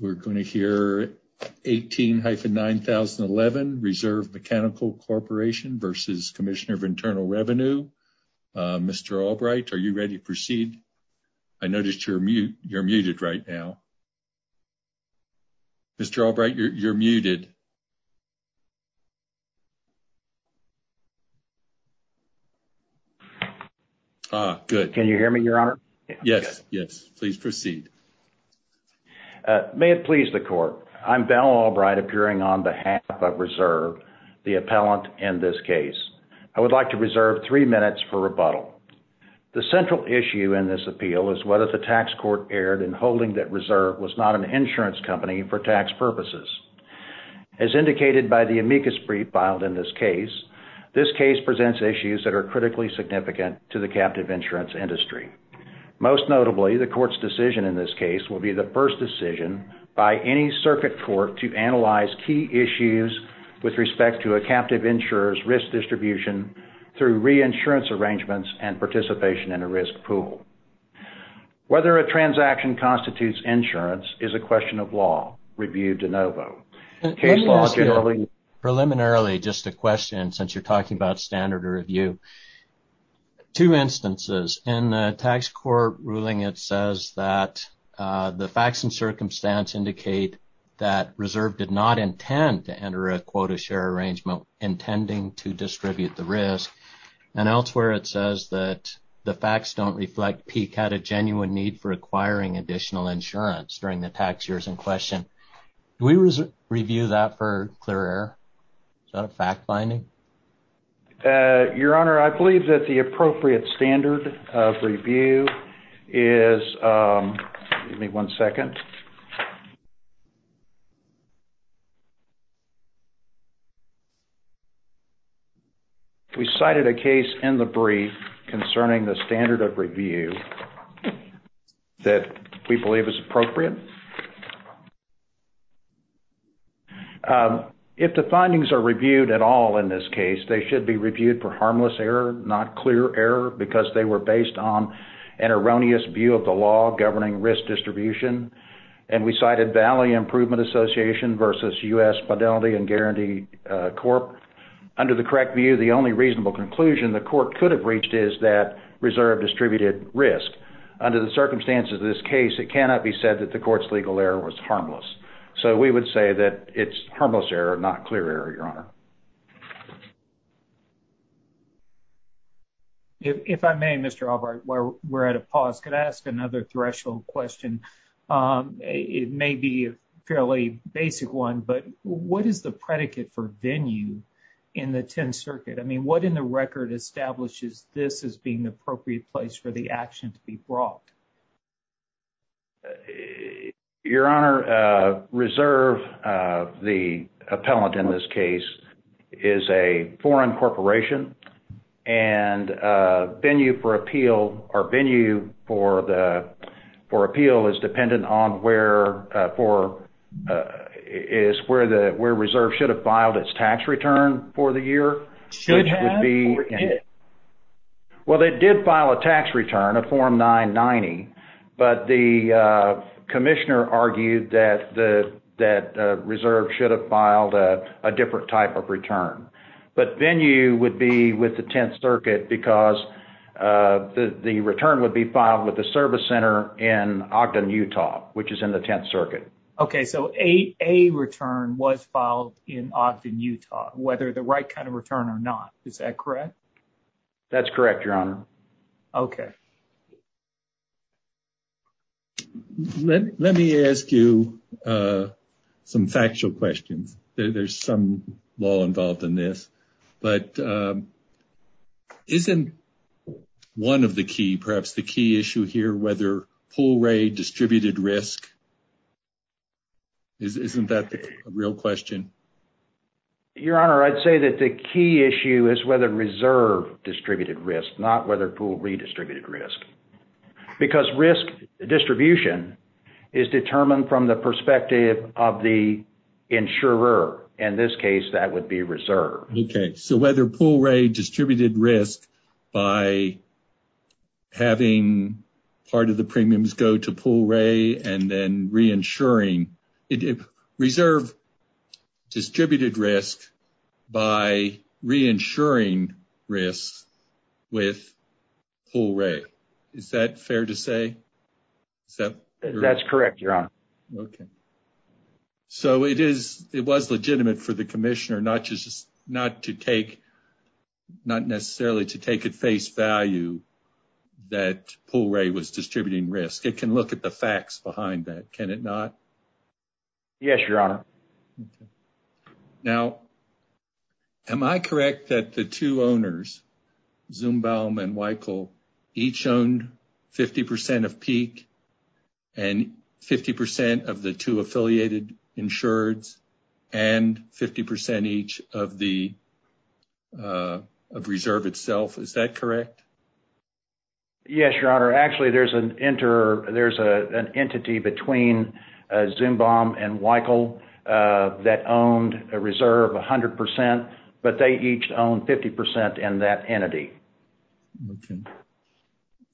We're going to hear 18-9011, Reserve Mechanical Corporation v. Commissioner of Internal Revenue. Mr. Albright, are you ready to proceed? I notice you're muted right now. Mr. Albright, you're muted. Ah, good. Can you hear me, Your Honor? Yes, yes. Please proceed. May it please the Court, I'm Ben Albright, appearing on behalf of Reserve, the appellant in this case. I would like to reserve three minutes for rebuttal. The central issue in this appeal is whether the tax court erred in holding that Reserve was not an insurance company for tax purposes. As indicated by the amicus brief filed in this case, this case presents issues that are critically significant to the captive insurance industry. Most notably, the court's decision in this case will be the first decision by any circuit court to analyze key issues with respect to a captive insurer's risk distribution through reinsurance arrangements and participation in a risk pool. Whether a transaction constitutes insurance is a question of law. Review de novo. Preliminarily, just a question, since you're talking about standard review. Two instances. In the tax court ruling, it says that the facts and circumstance indicate that Reserve did not intend to enter a quota share arrangement, intending to distribute the risk. And elsewhere, it says that the facts don't reflect Peek had a genuine need for acquiring additional insurance during the tax years in question. Do we review that for clear error? Is that a fact finding? Your Honor, I believe that the appropriate standard of review is, give me one second. We cited a case in the brief concerning the standard of review that we believe is appropriate. If the findings are reviewed at all in this case, they should be reviewed for harmless error, not clear error, because they were based on an erroneous view of the law governing risk distribution. And we cited Valley Improvement Association versus U.S. Fidelity and Guarantee Corp. Under the correct view, the only reasonable conclusion the court could have reached is that Reserve distributed risk. Under the circumstances of this case, it cannot be said that the court legal error was harmless. So we would say that it's harmless error, not clear error, Your Honor. If I may, Mr. Albart, we're at a pause. Could I ask another threshold question? It may be a fairly basic one, but what is the predicate for venue in the 10th Circuit? I mean, what in the record establishes this as being the appropriate place for the action to be brought? Your Honor, Reserve, the appellant in this case, is a foreign corporation, and venue for appeal, or venue for appeal is dependent on where Reserve should have filed its tax return for the year. Should have or did? Well, they did file a tax return, a Form 990, but the commissioner argued that Reserve should have filed a different type of return. But venue would be with the 10th Circuit because the return would be filed with the service center in Ogden, Utah, which is in the 10th Circuit. Okay, so a return was filed in Ogden, Utah, whether the right kind of return or not. Is that correct? That's correct, Your Honor. Okay. Let me ask you some factual questions. There's some law involved in this, but isn't one of the key, perhaps the key issue here, whether pull-ray distributed risk, isn't that the real question? Your Honor, I'd say that the key issue is whether Reserve distributed risk, not whether pull-ray redistributed risk. Because risk distribution is determined from the perspective of the insurer. In this case, that would be Reserve. Okay, so whether pull-ray distributed risk by having part of the premiums go to pull-ray and then re-insuring, Reserve distributed risk by re-insuring risk with pull-ray. Is that fair to say? That's correct, Your Honor. Okay. So it was legitimate for the commissioner not necessarily to take at face value that pull-ray was distributing risk. It can look at the facts behind that, can it not? Yes, Your Honor. Now, am I correct that the two owners, Zumbaum and Weichel, each owned 50% of peak and 50% of the two affiliated insureds and 50% each of Reserve itself? Is that correct? Yes, Your Honor. Actually, there's an entity between Zumbaum and Weichel that owned Reserve 100%, but they each owned 50% in that entity. Okay.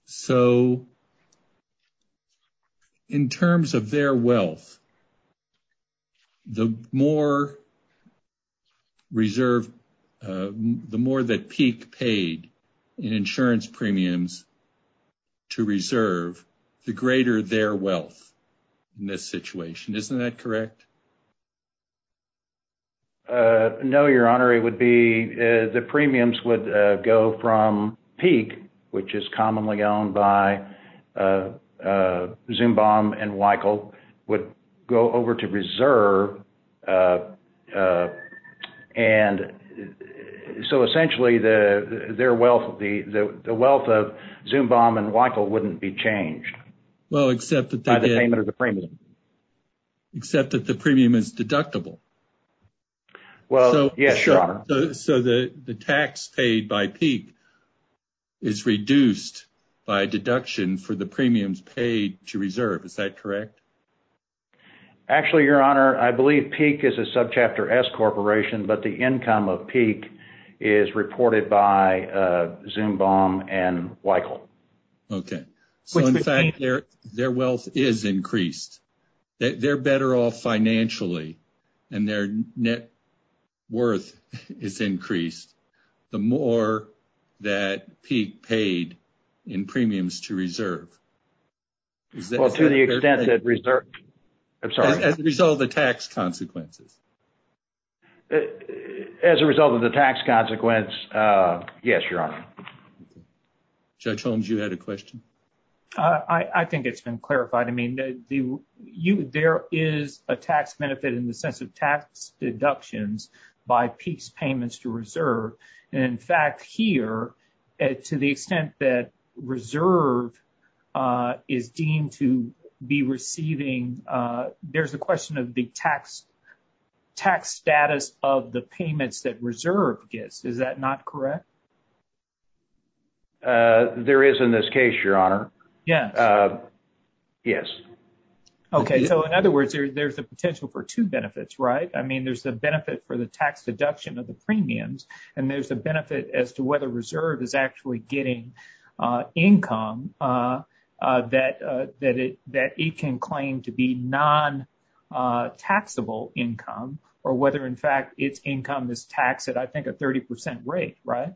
So in terms of their wealth, the more that peak paid in insurance premiums to Reserve, the greater their wealth in this situation. Isn't that correct? No, Your Honor. The premiums would go from peak, which is commonly owned by Zumbaum and Weichel, would go over to Reserve. So essentially, the wealth of Zumbaum and Weichel wouldn't be changed. Well, except that the premium is deductible. Well, yes, Your Honor. So the tax paid by peak is reduced by deduction for the premiums paid to Reserve. Is that correct? Actually, Your Honor, I believe peak is a subchapter S corporation, but the income of peak is reported by Zumbaum and Weichel. Okay. So in fact, their wealth is increased. They're better off financially, and their net worth is increased the more that peak paid in premiums to Reserve. Well, to the extent that Reserve... I'm sorry. As a result of the tax consequences. As a result of the tax consequence, yes, Your Honor. Judge Holmes, you had a question? I think it's been clarified. I mean, there is a tax benefit in the sense of tax deductions by peaks payments to Reserve. And in fact, here, to the extent that Reserve is deemed to be receiving, there's a question of the tax status of the payments that Reserve gets. Is that not correct? There is in this case, Your Honor. Yeah. Yes. Okay. So in other words, there's a potential for two benefits, right? I mean, there's the benefit for the tax deduction of the premiums, and there's the benefit as to whether Reserve is actually getting income that it can claim to be non-taxable income, or whether in fact, its income is taxed at, I think, a 30% rate, right?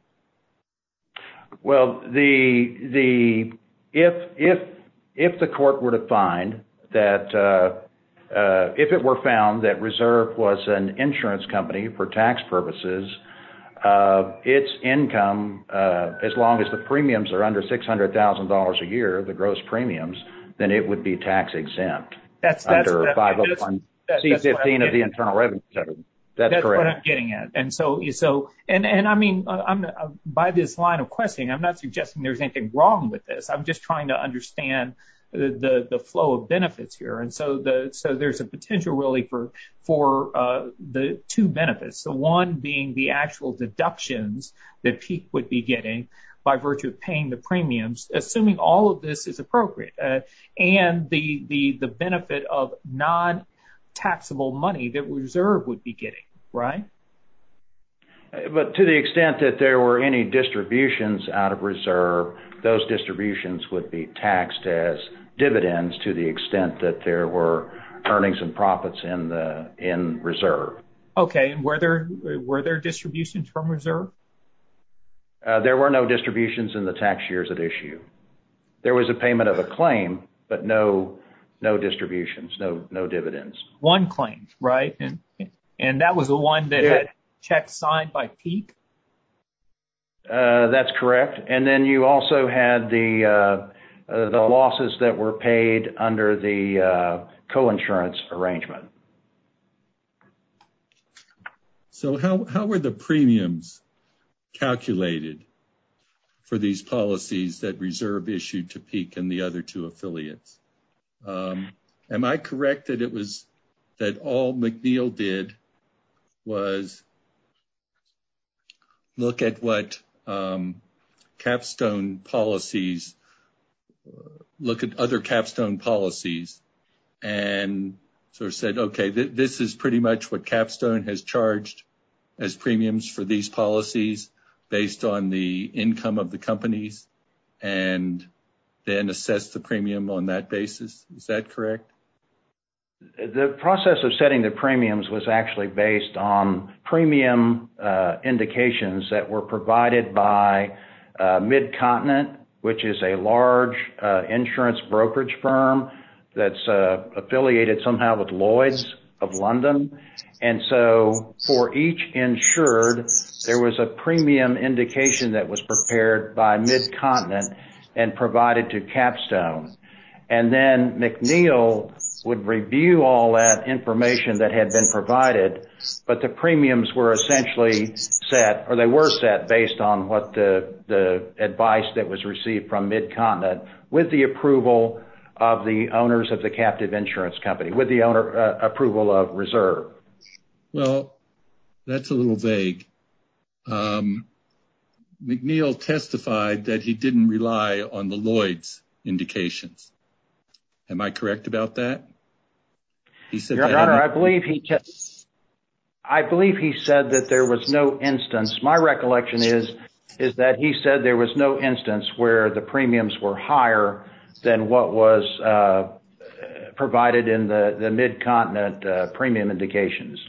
Well, if the court were to find that, if it were found that Reserve was an insurance company for tax purposes, its income, as long as the premiums are under $600,000 a year, the gross premiums, then it would be tax exempt under 501 C-15 of the Internal Revenue Service. That's correct. And so, and I mean, by this line of questioning, I'm not suggesting there's anything wrong with this. I'm just trying to understand the flow of benefits here. And so there's a potential, really, for the two benefits, the one being the actual deductions that he would be getting by virtue of paying the premiums, assuming all of this is appropriate, and the benefit of taxable money that Reserve would be getting, right? But to the extent that there were any distributions out of Reserve, those distributions would be taxed as dividends to the extent that there were earnings and profits in Reserve. Okay. Were there distributions from Reserve? There were no distributions in the tax years at issue. There was a payment of a claim, but no distributions, no dividends. One claim, right? And that was the one that had checks signed by Peak? That's correct. And then you also had the losses that were paid under the coinsurance arrangement. So how were the premiums calculated for these policies that Reserve issued to Peak and the other two affiliates? Am I correct that all McNeil did was look at what Capstone policies, look at other Capstone policies and sort of said, okay, this is pretty much what Capstone has to premium on that basis. Is that correct? The process of setting the premiums was actually based on premium indications that were provided by MidContinent, which is a large insurance brokerage firm that's affiliated somehow with Lloyd's of London. And so for each insured, there was a premium indication that was prepared by MidContinent and provided to Capstone. And then McNeil would review all that information that had been provided, but the premiums were essentially set, or they were set based on what the advice that was received from MidContinent with the approval of the owners of the captive insurance company, with the approval of Reserve. Well, that's a little vague. McNeil testified that he didn't rely on the Lloyd's indications. Am I correct about that? I believe he said that there was no instance. My recollection is that he said there was no instance where the premiums were higher than what was provided in the MidContinent premium indications.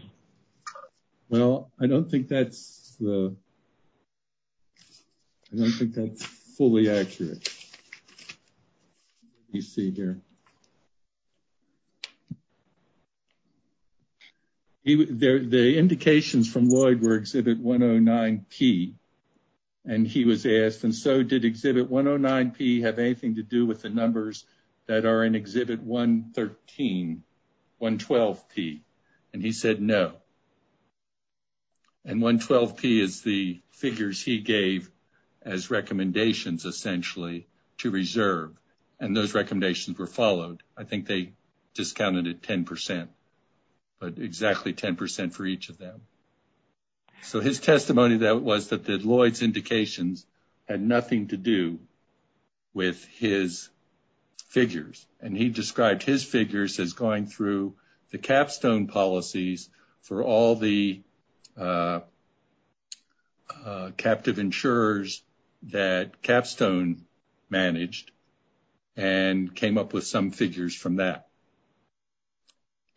Well, I don't think that's fully accurate. The indications from Lloyd were Exhibit 109P, and he was asked, and so did Exhibit 109P have anything to do with the numbers that are in Exhibit 113, 112P? And he said no. And 112P is the figures he gave as recommendations essentially to Reserve, and those recommendations were followed. I think they discounted it 10%, but exactly 10% for each of them. So, his testimony was that the Lloyd's indications had nothing to do with his figures, and he described his figures as going through the capstone policies for all the captive insurers that capstone managed and came up with some figures from that.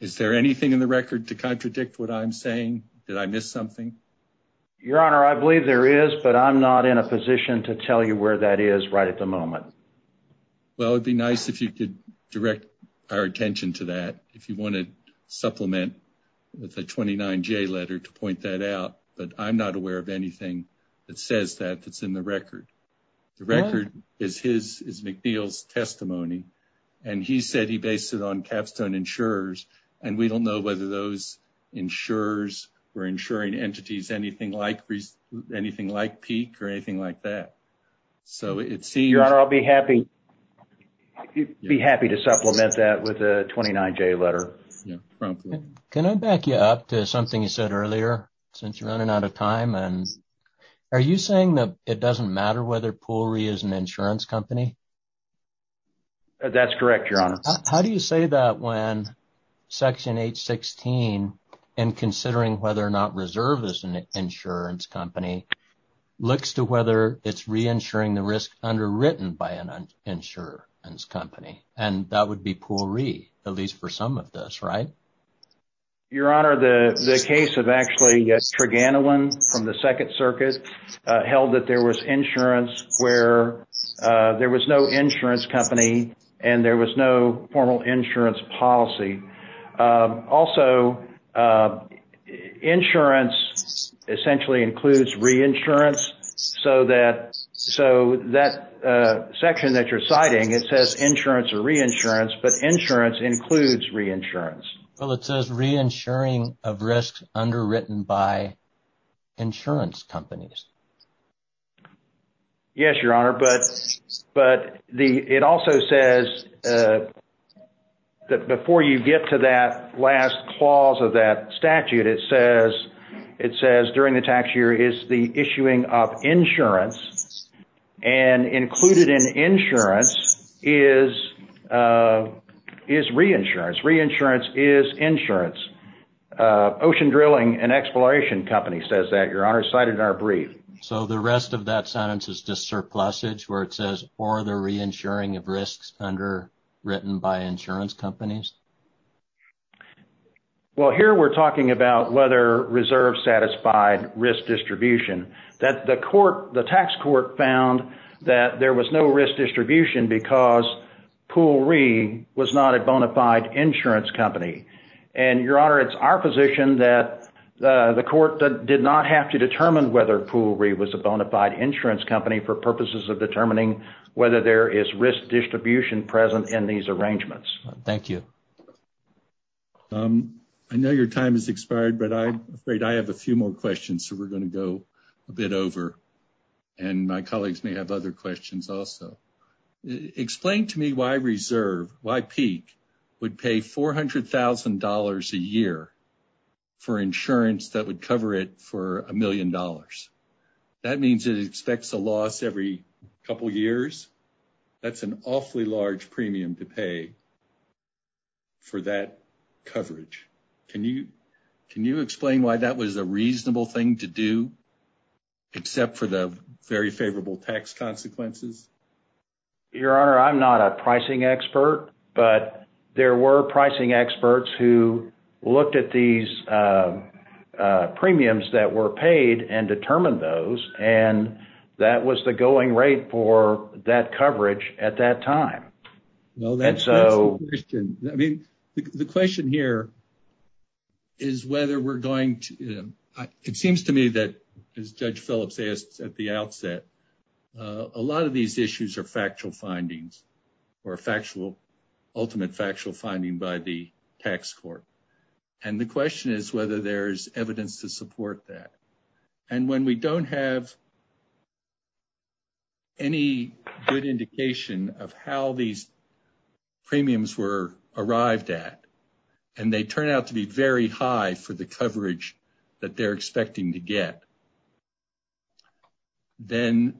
Is there anything in the record to contradict what I'm saying? Did I miss something? Your Honor, I believe there is, but I'm not in a position to tell you where that is right at the moment. Well, it'd be nice if you could direct our attention to that if you want to supplement with a 29J letter to point that out, but I'm not aware of anything that says that it's in the record. The record is McNeil's testimony, and he said he based it on capstone insurers, and we don't know whether those insurers were insuring entities, anything like peak or anything like that. Your Honor, I'll be happy to supplement that with a 29J letter. Can I back you up to something you said earlier since you're running out of time? Are you saying that it doesn't matter whether Poole Re is an insurance company? That's correct, Your Honor. How do you say that when Section 816, in considering whether or not Reserve is an insurance company, looks to whether it's reinsuring the risk underwritten by an insurance company, and that would be Poole Re, at least for some of this, right? Your Honor, the case of actually Treganilin from the Second Circuit held that there was insurance where there was no insurance company and there was no formal insurance policy. Also, insurance essentially includes reinsurance, so that section that you're citing, it says insurance or reinsurance, but insurance includes reinsurance. Well, it says reinsuring of risk underwritten by insurance companies. Yes, Your Honor, but it also says that before you get to that last clause of that statute, it says during the tax year is the issuing of insurance, and included in insurance is reinsurance. Reinsurance is insurance. Ocean Drilling, an exploration company, says that, Your Honor, cited in our brief. So the rest of that sentence is just surplusage, where it says for the reinsuring of risks underwritten by insurance companies? Well, here we're talking about whether reserves satisfied risk distribution. That the court, the tax court found that there was no risk distribution because Poole Re was not a bona fide insurance company. And, Your Honor, it's our position that the court did not have to determine whether Poole Re was a bona fide insurance company for purposes of determining whether there is risk distribution present in these arrangements. Thank you. I know your time has expired, but I'm afraid I have a few more questions, so we're going to go a bit over, and my colleagues may have other questions also. Explain to me why PEEC would pay $400,000 a year for insurance that would cover it for a million dollars. That means it expects a loss every couple years? That's an awfully large premium to pay for that coverage. Can you explain why that was a reasonable thing to do, except for the very favorable tax consequences? Your Honor, I'm not a pricing expert, but there were pricing experts who looked at these premiums that were paid and determined those, and that was the going rate for that coverage at that time. The question here is whether we're going to, it seems to me that, as Judge Phillips said at the outset, a lot of these issues are factual findings or ultimate factual finding by the tax court. And the question is whether there's evidence to support that. And when we don't have any good indication of how these premiums were arrived at, and they turn out to be very high for the coverage that they're expecting to get, then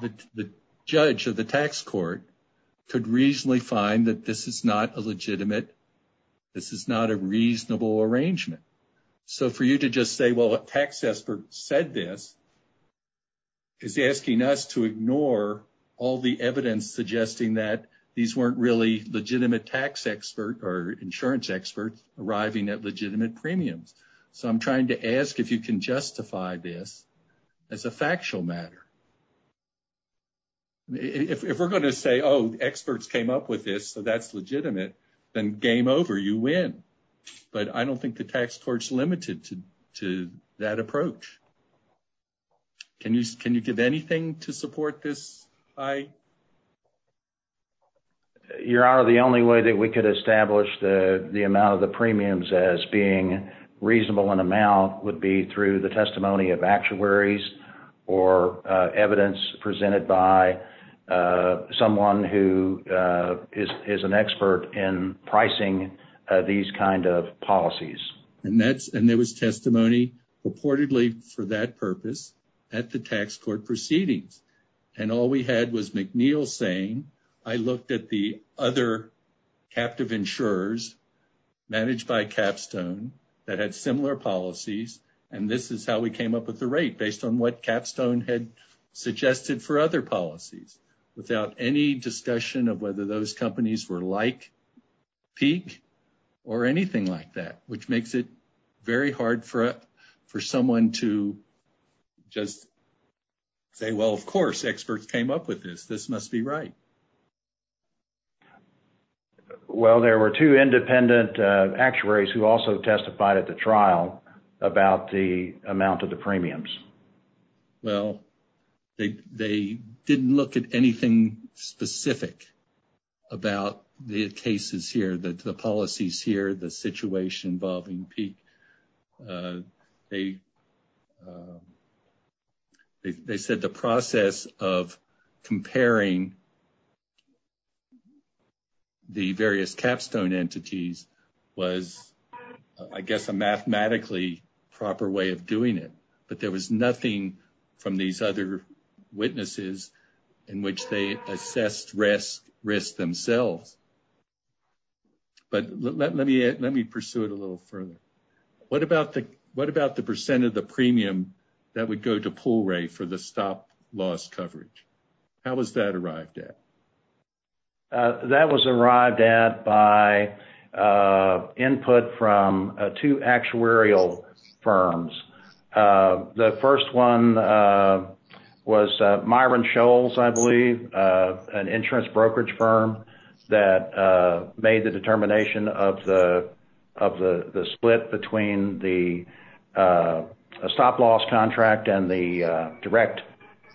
the judge of the tax court could reasonably find that this is not a legitimate, this is not a reasonable arrangement. So for you to just say, a tax expert said this is asking us to ignore all the evidence suggesting that these weren't really legitimate tax experts or insurance experts arriving at legitimate premiums. So I'm trying to ask if you can justify this as a factual matter. If we're going to say, oh, experts came up with this, so that's legitimate, then game over, you win. But I don't think the tax court's limited to that approach. Can you give anything to support this? Your Honor, the only way that we could establish the amount of the premiums as being reasonable in amount would be through the testimony of actuaries or evidence presented by someone who is an expert in pricing these kind of policies. And there was testimony reportedly for that purpose at the tax court proceedings. And all we had was McNeil saying, I looked at the other captive insurers managed by Capstone that had similar policies, and this is how we came up with the rate based on what Capstone had suggested for other policies without any discussion of whether those companies were like Peak or anything like that, which makes it very hard for someone to just say, well, of course, experts came up with this. This must be right. Well, there were two independent actuaries who also testified at the trial about the amount of the premiums. Well, they didn't look at anything specific about the cases here, the policies here, the situation involving Peak. They said the process of comparing the various Capstone entities was, I guess, a mathematically proper way of doing it. But there was nothing from these other witnesses in which they assessed risk themselves. But let me pursue it a little further. What about the percent of the premium that would go to PULRE for the stop loss coverage? How was that arrived at? That was arrived at by input from two actuarial firms. The first one was Myron Scholes, I believe, an insurance brokerage firm that made the determination of the split between the stop loss contract and the direct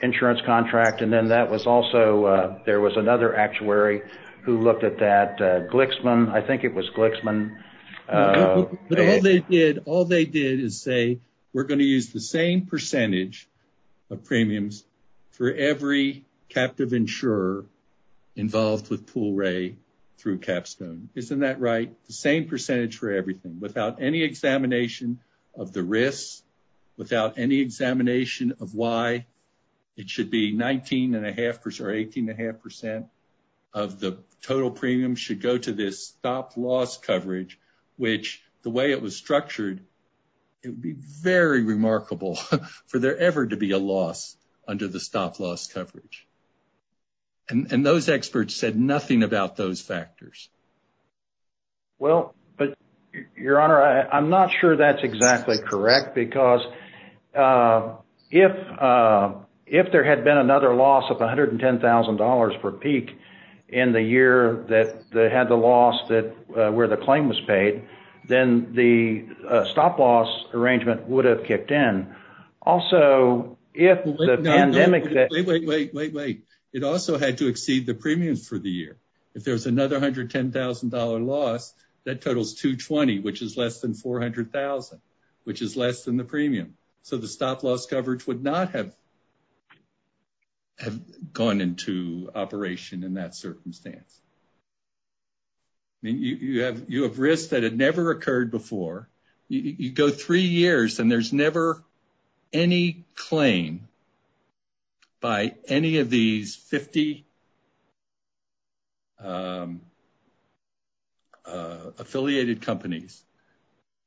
insurance contract. And then there was another actuary who looked at that, Glixman. I think it was Glixman. All they did is say, we're going to use the same percentage of premiums for every captive insurer involved with PULRE through Capstone. Isn't that right? The same percentage for everything without any examination of the risks, without any examination of why it should be 19.5% or 18.5% of the total premium should go to this stop loss coverage, which the way it was structured, it would be very remarkable for there ever to be a loss under the stop loss coverage. And those experts said nothing about those factors. Well, but, Your Honor, I'm not sure that's exactly correct, because if there had been another loss of $110,000 per peak in the year that they had the loss where the claim was paid, then the stop loss arrangement would have kicked in. Also, if the pandemic... Wait, wait, wait, wait, wait, wait. It also had to exceed the premiums for the year. If there's another $110,000 loss, that totals 220, which is less than 400,000, which is less than the premium. So the stop loss coverage would not have gone into operation in that circumstance. I mean, you have risks that had never occurred before. You go three years and there's never any claim by any of these 50 affiliated companies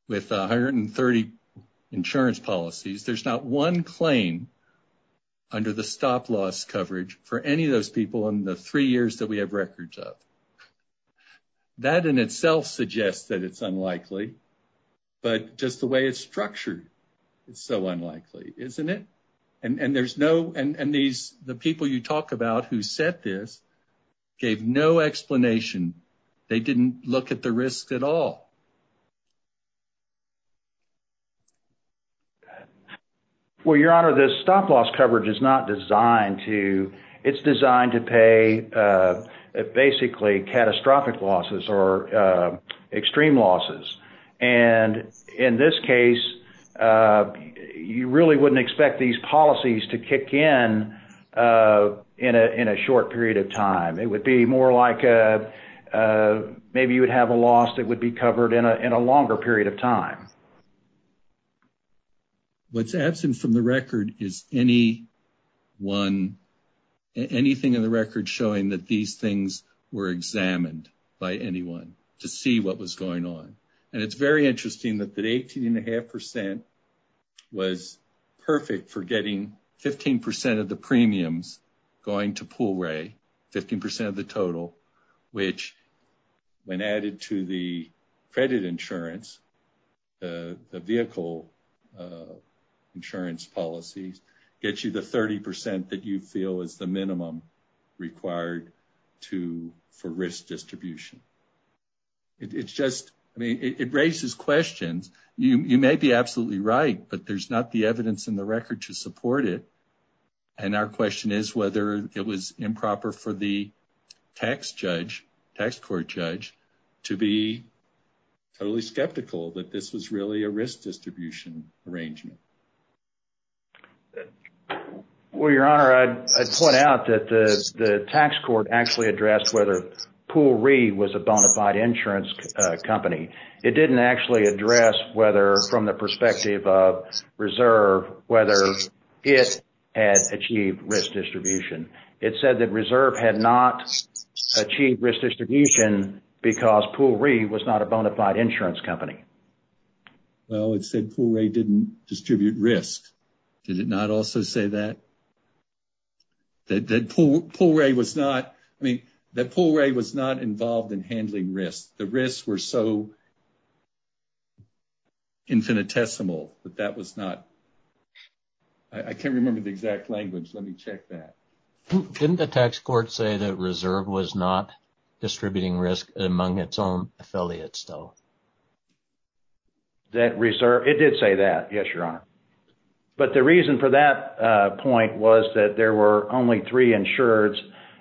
with 130 insurance policies. There's not one claim under the stop loss coverage for any of those people in the three years that we have records of. So that in itself suggests that it's unlikely, but just the way it's structured, it's so unlikely, isn't it? And the people you talk about who said this gave no explanation. They didn't look at the risk at all. Well, Your Honor, the stop loss coverage is not designed to... It's designed to pay basically catastrophic losses or extreme losses. And in this case, you really wouldn't expect these policies to kick in in a short period of time. It would be more like a... Maybe you would have a loss that would be covered in a long period of time. What's absent from the record is anything in the record showing that these things were examined by anyone to see what was going on. And it's very interesting that the 18.5% was perfect for getting 15% of the premiums going to Pool Ray, 15% of the total, which when added to the credit insurance, the vehicle insurance policies, gets you the 30% that you feel is the minimum required for risk distribution. It raises questions. You may be absolutely right, but there's not the evidence in the record to support it. And our question is whether it was improper for the tax court judge to be totally skeptical that this was really a risk distribution arrangement. Well, Your Honor, I'd point out that the tax court actually addressed whether Pool Ray was a bona fide insurance company. It didn't actually address whether from the perspective of Reserve, whether it had achieved risk distribution. It said that Reserve had not achieved risk distribution because Pool Ray was not a bona fide insurance company. Well, it said Pool Ray didn't distribute risk. Did it not also say that? That Pool Ray was not, I mean, that Pool Ray was not involved in handling risk. The risks were so infinitesimal that that was not, I can't remember the exact language. Let me check that. Didn't the tax court say that Reserve was not distributing risk among its own affiliates though? That Reserve, it did say that, yes, Your Honor. But the reason for that point was that there were only three insureds,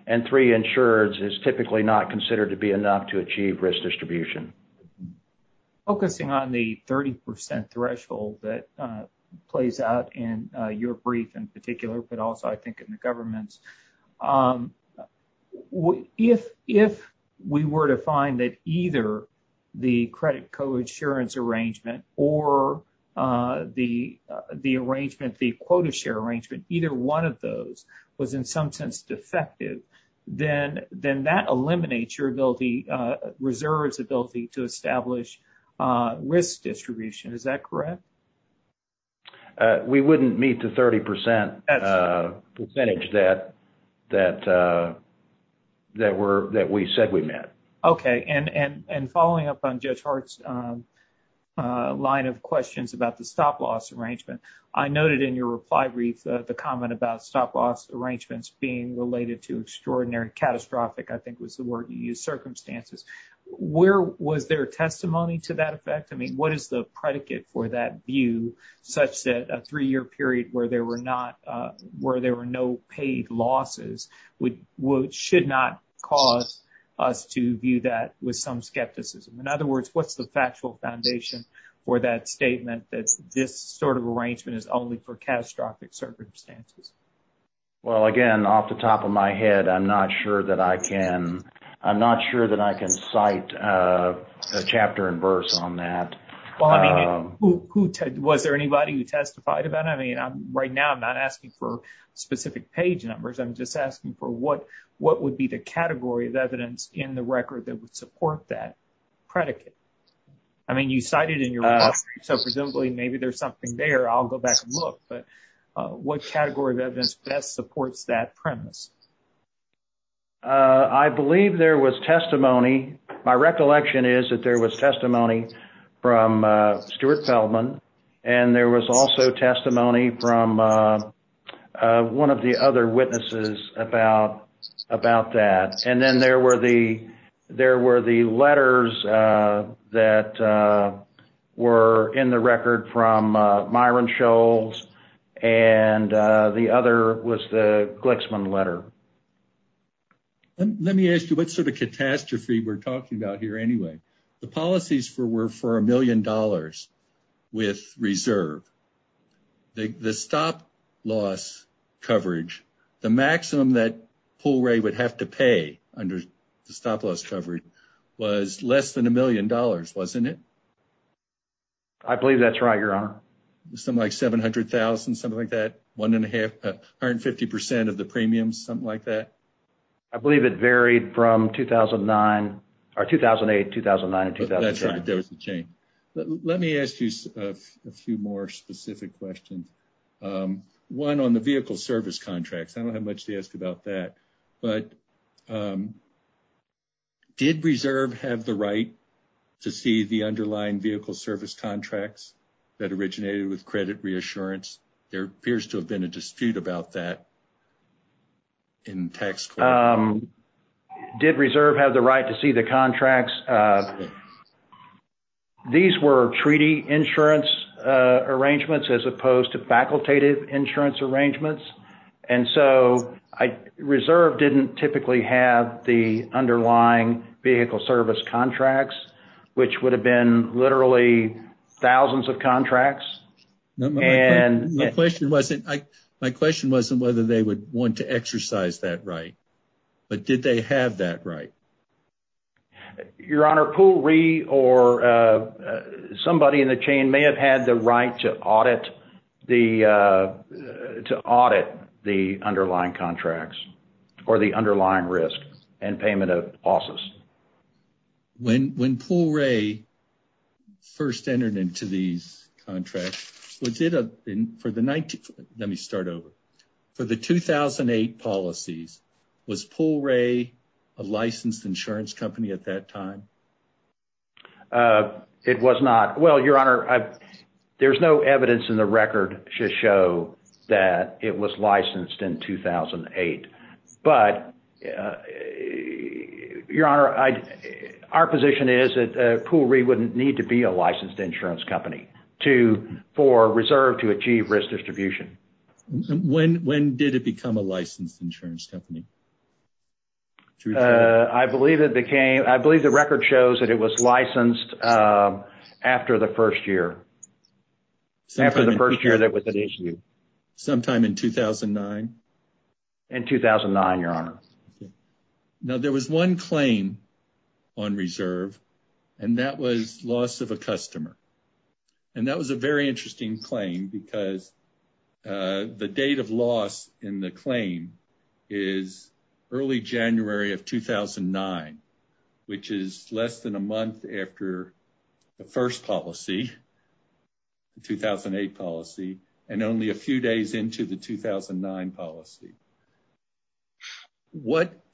and three insureds is typically not considered to be enough to achieve risk distribution. Focusing on the 30% threshold that plays out in your brief in particular, but also I think in the government's, if we were to find that either the credit co-insurance arrangement or the arrangement, the quota share arrangement, either one of those was in some sense defective, then that eliminates your ability, Reserve's ability to establish risk distribution. Is that correct? We wouldn't meet the 30% percentage that we said we met. Okay. And following up on Judge Hart's line of questions about the stop-loss arrangement, I noted in your reply brief the comment about stop-loss arrangements being related to extraordinary, catastrophic, I think was the word you used, circumstances. Was there testimony to that effect? I mean, what is the predicate for that view such that a three-year period where there were no paid losses should not cause us to view that with some skepticism? In other words, what's the factual foundation for that statement that this sort of arrangement is only for catastrophic circumstances? Well, again, off the top of my head, I'm not sure that I can cite a chapter and verse on that. Well, I mean, was there anybody who testified about it? I mean, right now I'm not asking for specific page numbers. I'm just asking for what would be the category of evidence in the record that would support that predicate? I mean, you cited it in your reply, so presumably maybe there's something there. I'll go back and look, but what category of evidence best supports that premise? I believe there was testimony. My recollection is that there was testimony from Stuart Feldman, and there was also testimony from one of the other witnesses about that. And then there were the letters that were in the record from Myron Scholes, and the other was the Glixman letter. Let me ask you, what sort of catastrophe we're talking about here anyway? The policies were for a million dollars with reserve. The stop-loss coverage, the maximum that Poll Ray would have to pay under stop-loss coverage was less than a million dollars, wasn't it? I believe that's right, Your Honor. Something like 700,000, something like that? One and a half, 150% of the premiums, something like that? I believe it varied from 2008, 2009, and 2010. Let me ask you a few more specific questions. One on the vehicle service contracts. I don't have much to ask about that, but did reserve have the right to see the underlying vehicle service contracts that originated with credit reassurance? There appears to have been a dispute about that in text. Did reserve have the right to see the contracts? These were treaty insurance arrangements as opposed to facultative insurance arrangements, and so reserve didn't typically have the underlying vehicle service contracts, which would have been literally thousands of contracts. My question wasn't whether they would want to exercise that right, but did they have that right? Your Honor, Poll Ray or somebody in the chain may have had the right to audit the underlying contracts or the underlying risk and payment of losses. When Poll Ray first entered into these contracts, was it for the 19... Let me start over. For the 2008 policies, was Poll Ray a licensed insurance company at that time? It was not. Well, Your Honor, there's no evidence in the record to show that it was licensed in 2008. Our position is that Poll Ray wouldn't need to be a licensed insurance company for reserve to achieve risk distribution. When did it become a licensed insurance company? I believe the record shows that it was licensed after the first year. After the first year that it was issued. Sometime in 2009? In 2009, Your Honor. Now, there was one claim on reserve, and that was loss of a customer. That was a very interesting claim because the date of loss in the claim is early January of 2009, which is less than a month after the first policy, the 2008 policy, and only a few days into the 2009 policy.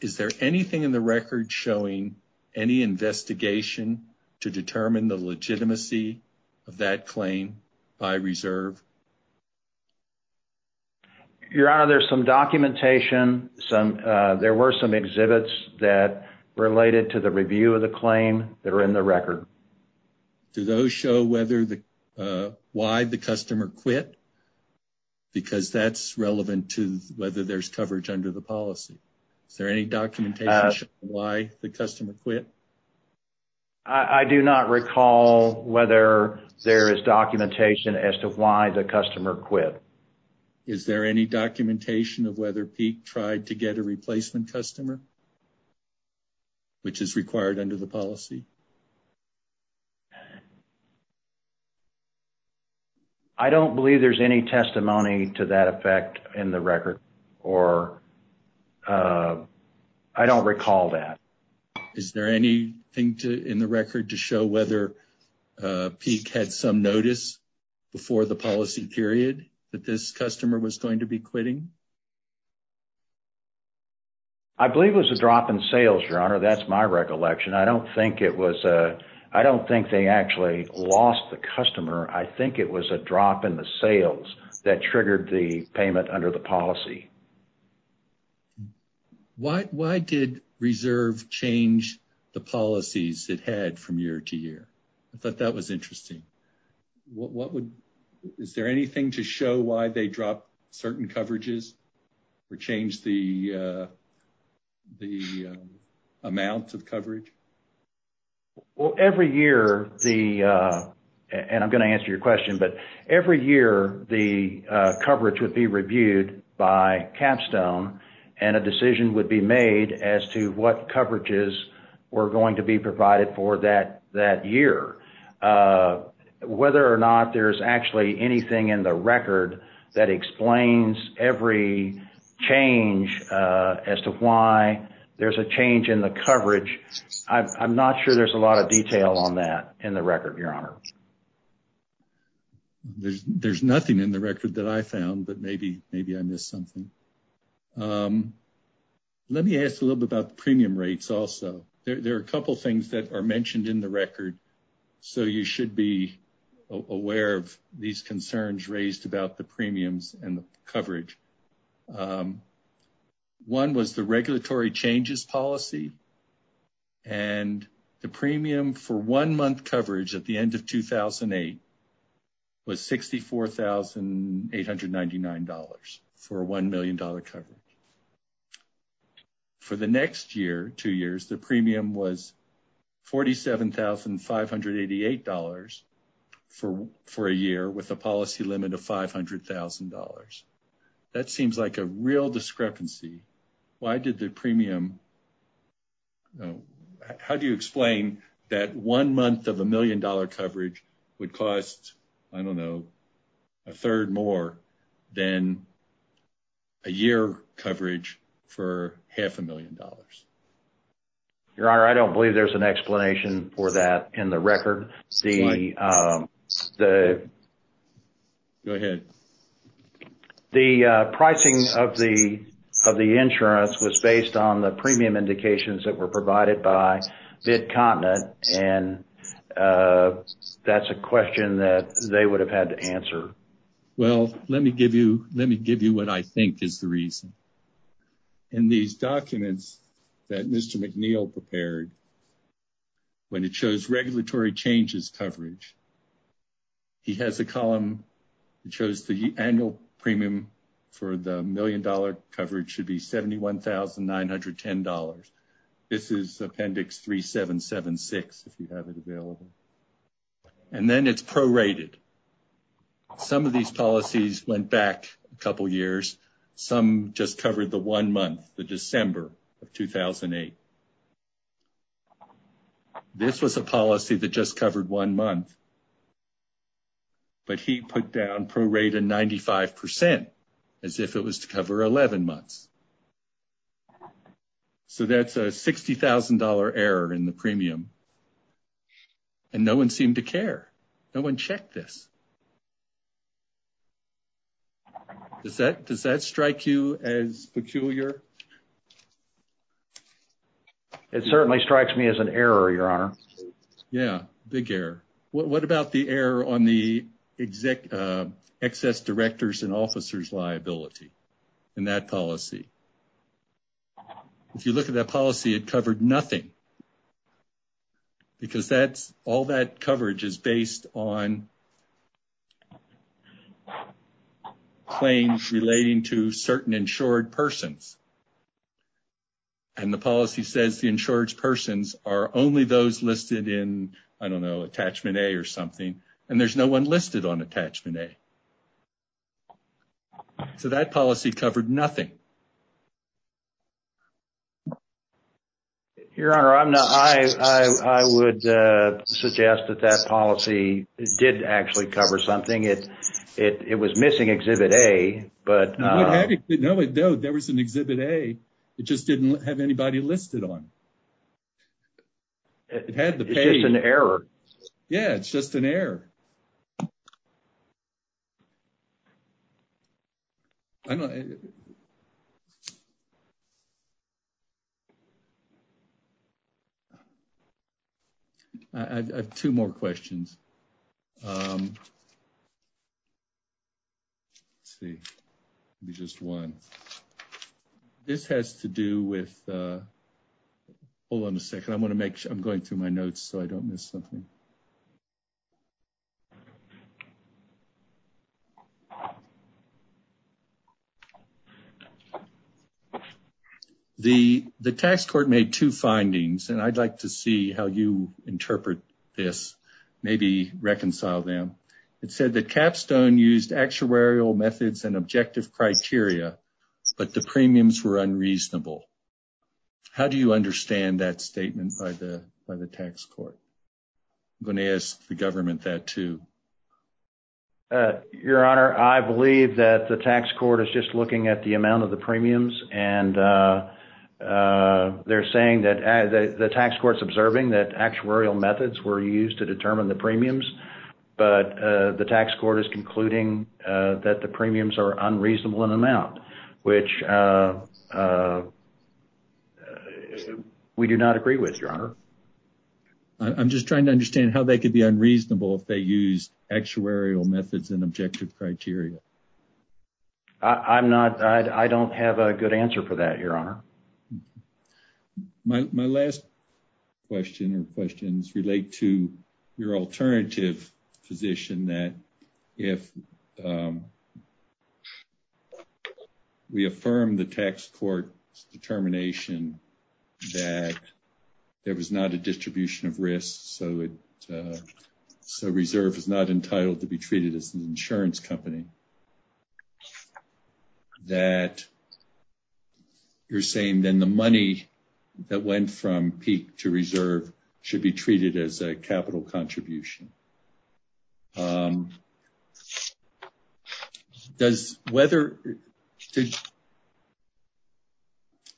Is there anything in the record showing any investigation to determine the legitimacy of that claim by reserve? Your Honor, there's some documentation. There were some exhibits that related to the review of the claim that are in the record. Do those show why the customer quit? Because that's relevant to whether there's coverage under the policy. Is there any documentation of why the customer quit? I do not recall whether there is documentation as to why the customer quit. Is there any documentation of whether Pete tried to get a replacement customer, which is required under the policy? I don't believe there's any testimony to that effect in the record, or I don't recall that. Is there anything in the record to show whether Pete had some notice before the policy period that this customer was going to be quitting? I believe it was a drop in sales, Your Honor. That's my recollection. I don't think it was a, I don't think they actually lost the customer. I think it was a drop in the sales that triggered the payment under the policy. Why did reserve change the policies it had from year to year? I thought that was interesting. What would, is there anything to show why they dropped certain coverages? Or change the amount of coverage? Well, every year the, and I'm going to answer your question, but every year the coverage would be reviewed by Capstone, and a decision would be made as to what coverages were going to be provided for that year. Whether or not there's actually anything in the record that explains every change as to why there's a change in the coverage, I'm not sure there's a lot of detail on that in the record, Your Honor. There's nothing in the record that I found, but maybe I missed something. Let me ask a little bit about premium rates also. There are a couple things that are mentioned in the record, so you should be aware of these in the record. One was the regulatory changes policy, and the premium for one month coverage at the end of 2008 was $64,899 for a $1 million coverage. For the next year, two years, the that seems like a real discrepancy. Why did the premium, how do you explain that one month of $1 million coverage would cost, I don't know, a third more than a year coverage for half a million dollars? Your Honor, I don't believe there's an explanation for that in the record. The pricing of the insurance was based on the premium indications that were provided by MidContinent, and that's a question that they would have had to answer. Well, let me give you what I think is the reason. In these documents that Mr. McNeil prepared, when it shows regulatory changes coverage, he has a column that shows the annual premium for the $1 million coverage should be $71,910. This is Appendix 3776, if you have it available. And then it's prorated. Some of these policies went back a couple years. Some just covered the December of 2008. This was a policy that just covered one month, but he put down prorated 95% as if it was to cover 11 months. So that's a $60,000 error in the premium, and no one seemed to care. No one checked this. Does that strike you as peculiar? It certainly strikes me as an error, Your Honor. Yeah, big error. What about the error on the excess director's and officer's liability in that policy? If you look at that policy, it covered nothing because all that coverage is based on claims relating to certain insured persons. And the policy says the insured persons are only those listed in, I don't know, Attachment A or something, and there's no one listed on Attachment A. So that policy covered nothing. Your Honor, I would suggest that that policy did actually cover something. It was missing Exhibit A. No, there was an Exhibit A. It just didn't have anybody listed on it. It's just an error. I have two more questions. Let's see. Just one. This has to do with, hold on a second. I'm going through my notes so I don't miss something. Okay. The tax court made two findings, and I'd like to see how you interpret this, maybe reconcile them. It said that Capstone used actuarial methods and objective criteria, but the premiums were unreasonable. How do you understand that statement by the tax court? I'm going to ask the government that, too. Your Honor, I believe that the tax court is just looking at the amount of the premiums, and they're saying that the tax court's observing that actuarial methods were used to determine the premiums, but the tax court is concluding that the premiums are unreasonable in amount, which we do not agree with, Your Honor. I'm just trying to understand how they could be unreasonable if they use actuarial methods and objective criteria. I don't have a good answer for that, Your Honor. My last question or questions relate to your alternative position that if we affirm the tax court's determination that there was not a distribution of risk, so reserve is not entitled to be treated as an insurance company, that you're saying then the money that went from peak to reserve should be treated as a contribution.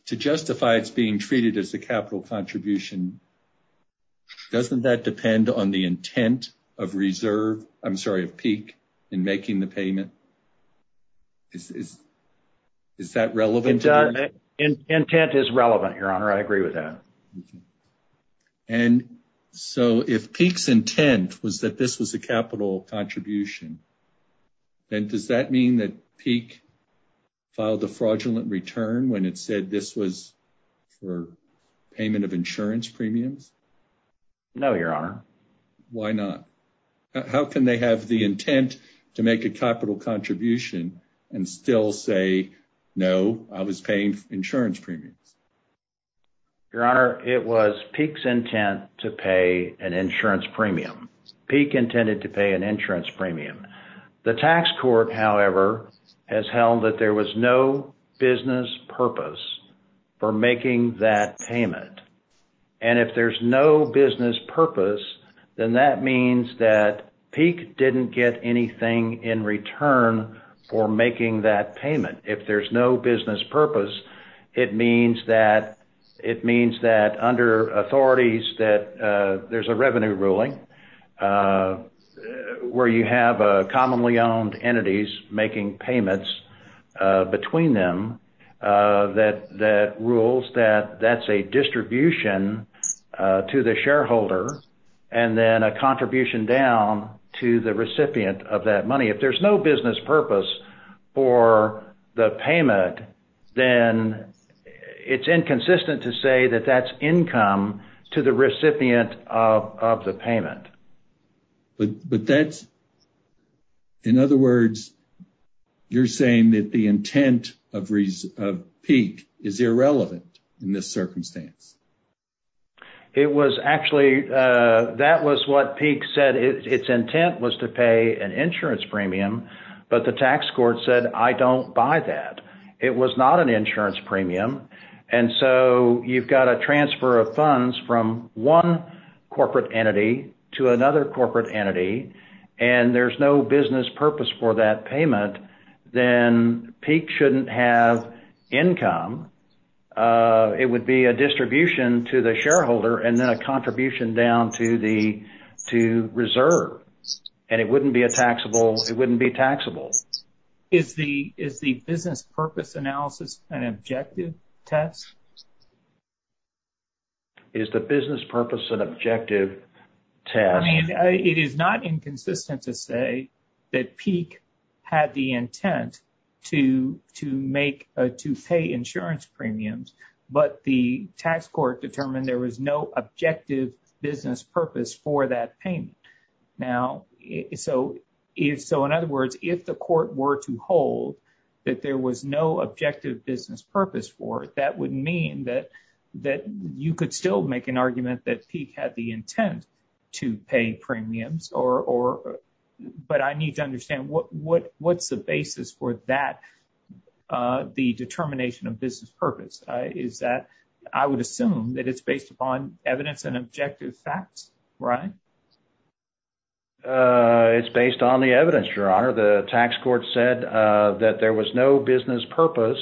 To justify it being treated as a capital contribution, doesn't that depend on the intent of peak in making the payment? Is that relevant? Intent is relevant, Your Honor. I agree with that. And so if peak's intent was that this was a capital contribution, then does that mean that peak filed a fraudulent return when it said this was for payment of insurance premiums? No, Your Honor. Why not? How can they have the intent to make a capital contribution and still say, no, I was paying insurance premium? Your Honor, it was peak's intent to pay an insurance premium. Peak intended to pay an insurance premium. The tax court, however, has held that there was no business purpose for making that payment. And if there's no business purpose, then that means that peak didn't get anything in return for making that payment. If there's no business purpose, it means that under authorities that there's a revenue ruling where you have commonly owned entities making payments between them that rules that that's a distribution to the shareholder and then a contribution down to the recipient of that payment, then it's inconsistent to say that that's income to the recipient of the payment. But that's, in other words, you're saying that the intent of peak is irrelevant in this circumstance? It was actually, that was what peak said. Its intent was to pay an insurance premium, but the tax court said, I don't buy that. It was not an insurance premium. And so, you've got a transfer of funds from one corporate entity to another corporate entity, and there's no business purpose for that payment, then peak shouldn't have income. It would be a distribution to the shareholder and then a contribution down to the reserve. And it wouldn't be a taxable, it wouldn't be taxable. Is the business purpose analysis an objective test? Is the business purpose an objective test? I mean, it is not inconsistent to say that peak had the intent to pay insurance premiums, but the tax court determined there was no objective business purpose for that payment. Now, so in other words, if the court were to hold that there was no objective business purpose for it, that would mean that you could still make an argument that peak had the intent to pay premiums or, but I need to understand what's the basis for that, the determination of business purpose is that I would assume that it's based on evidence and objective facts, right? It's based on the evidence, your honor. The tax court said that there was no business purpose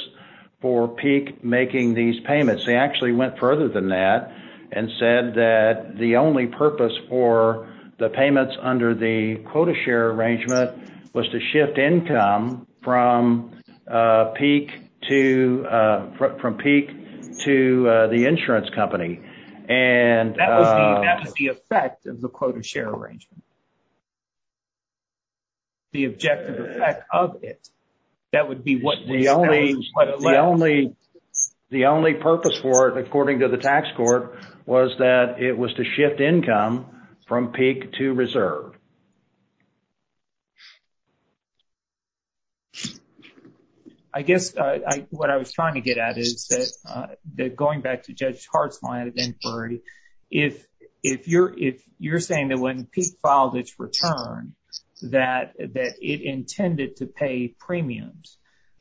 for peak making these payments. They actually went further than that and said that the only purpose for the payments under the quota share arrangement was to shift income from peak to the insurance company. And that would be the effect of the quota share arrangement. The objective effect of it, that would be what the only purpose for it according to the tax court was that it was to shift income from peak to reserve. I guess what I was trying to get at is that going back to Judge Hart's line of inquiry, if you're saying that when peak filed its return, that it intended to pay premiums,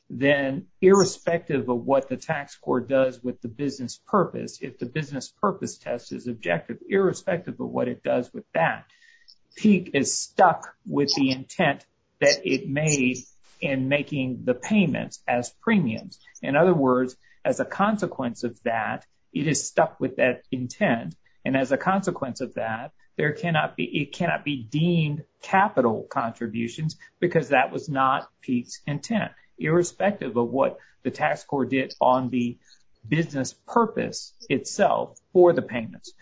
then irrespective of what the tax court does with the business purpose, if the business purpose test is objective, irrespective of what it does with that, peak is stuck with the intent that it made in making the payments as premiums. In other words, as a consequence of that, it is stuck with that intent. And as a consequence of that, there cannot be, it cannot be deemed capital contributions because that was not peak's intent, irrespective of what the tax court did on the business purpose itself for the payments.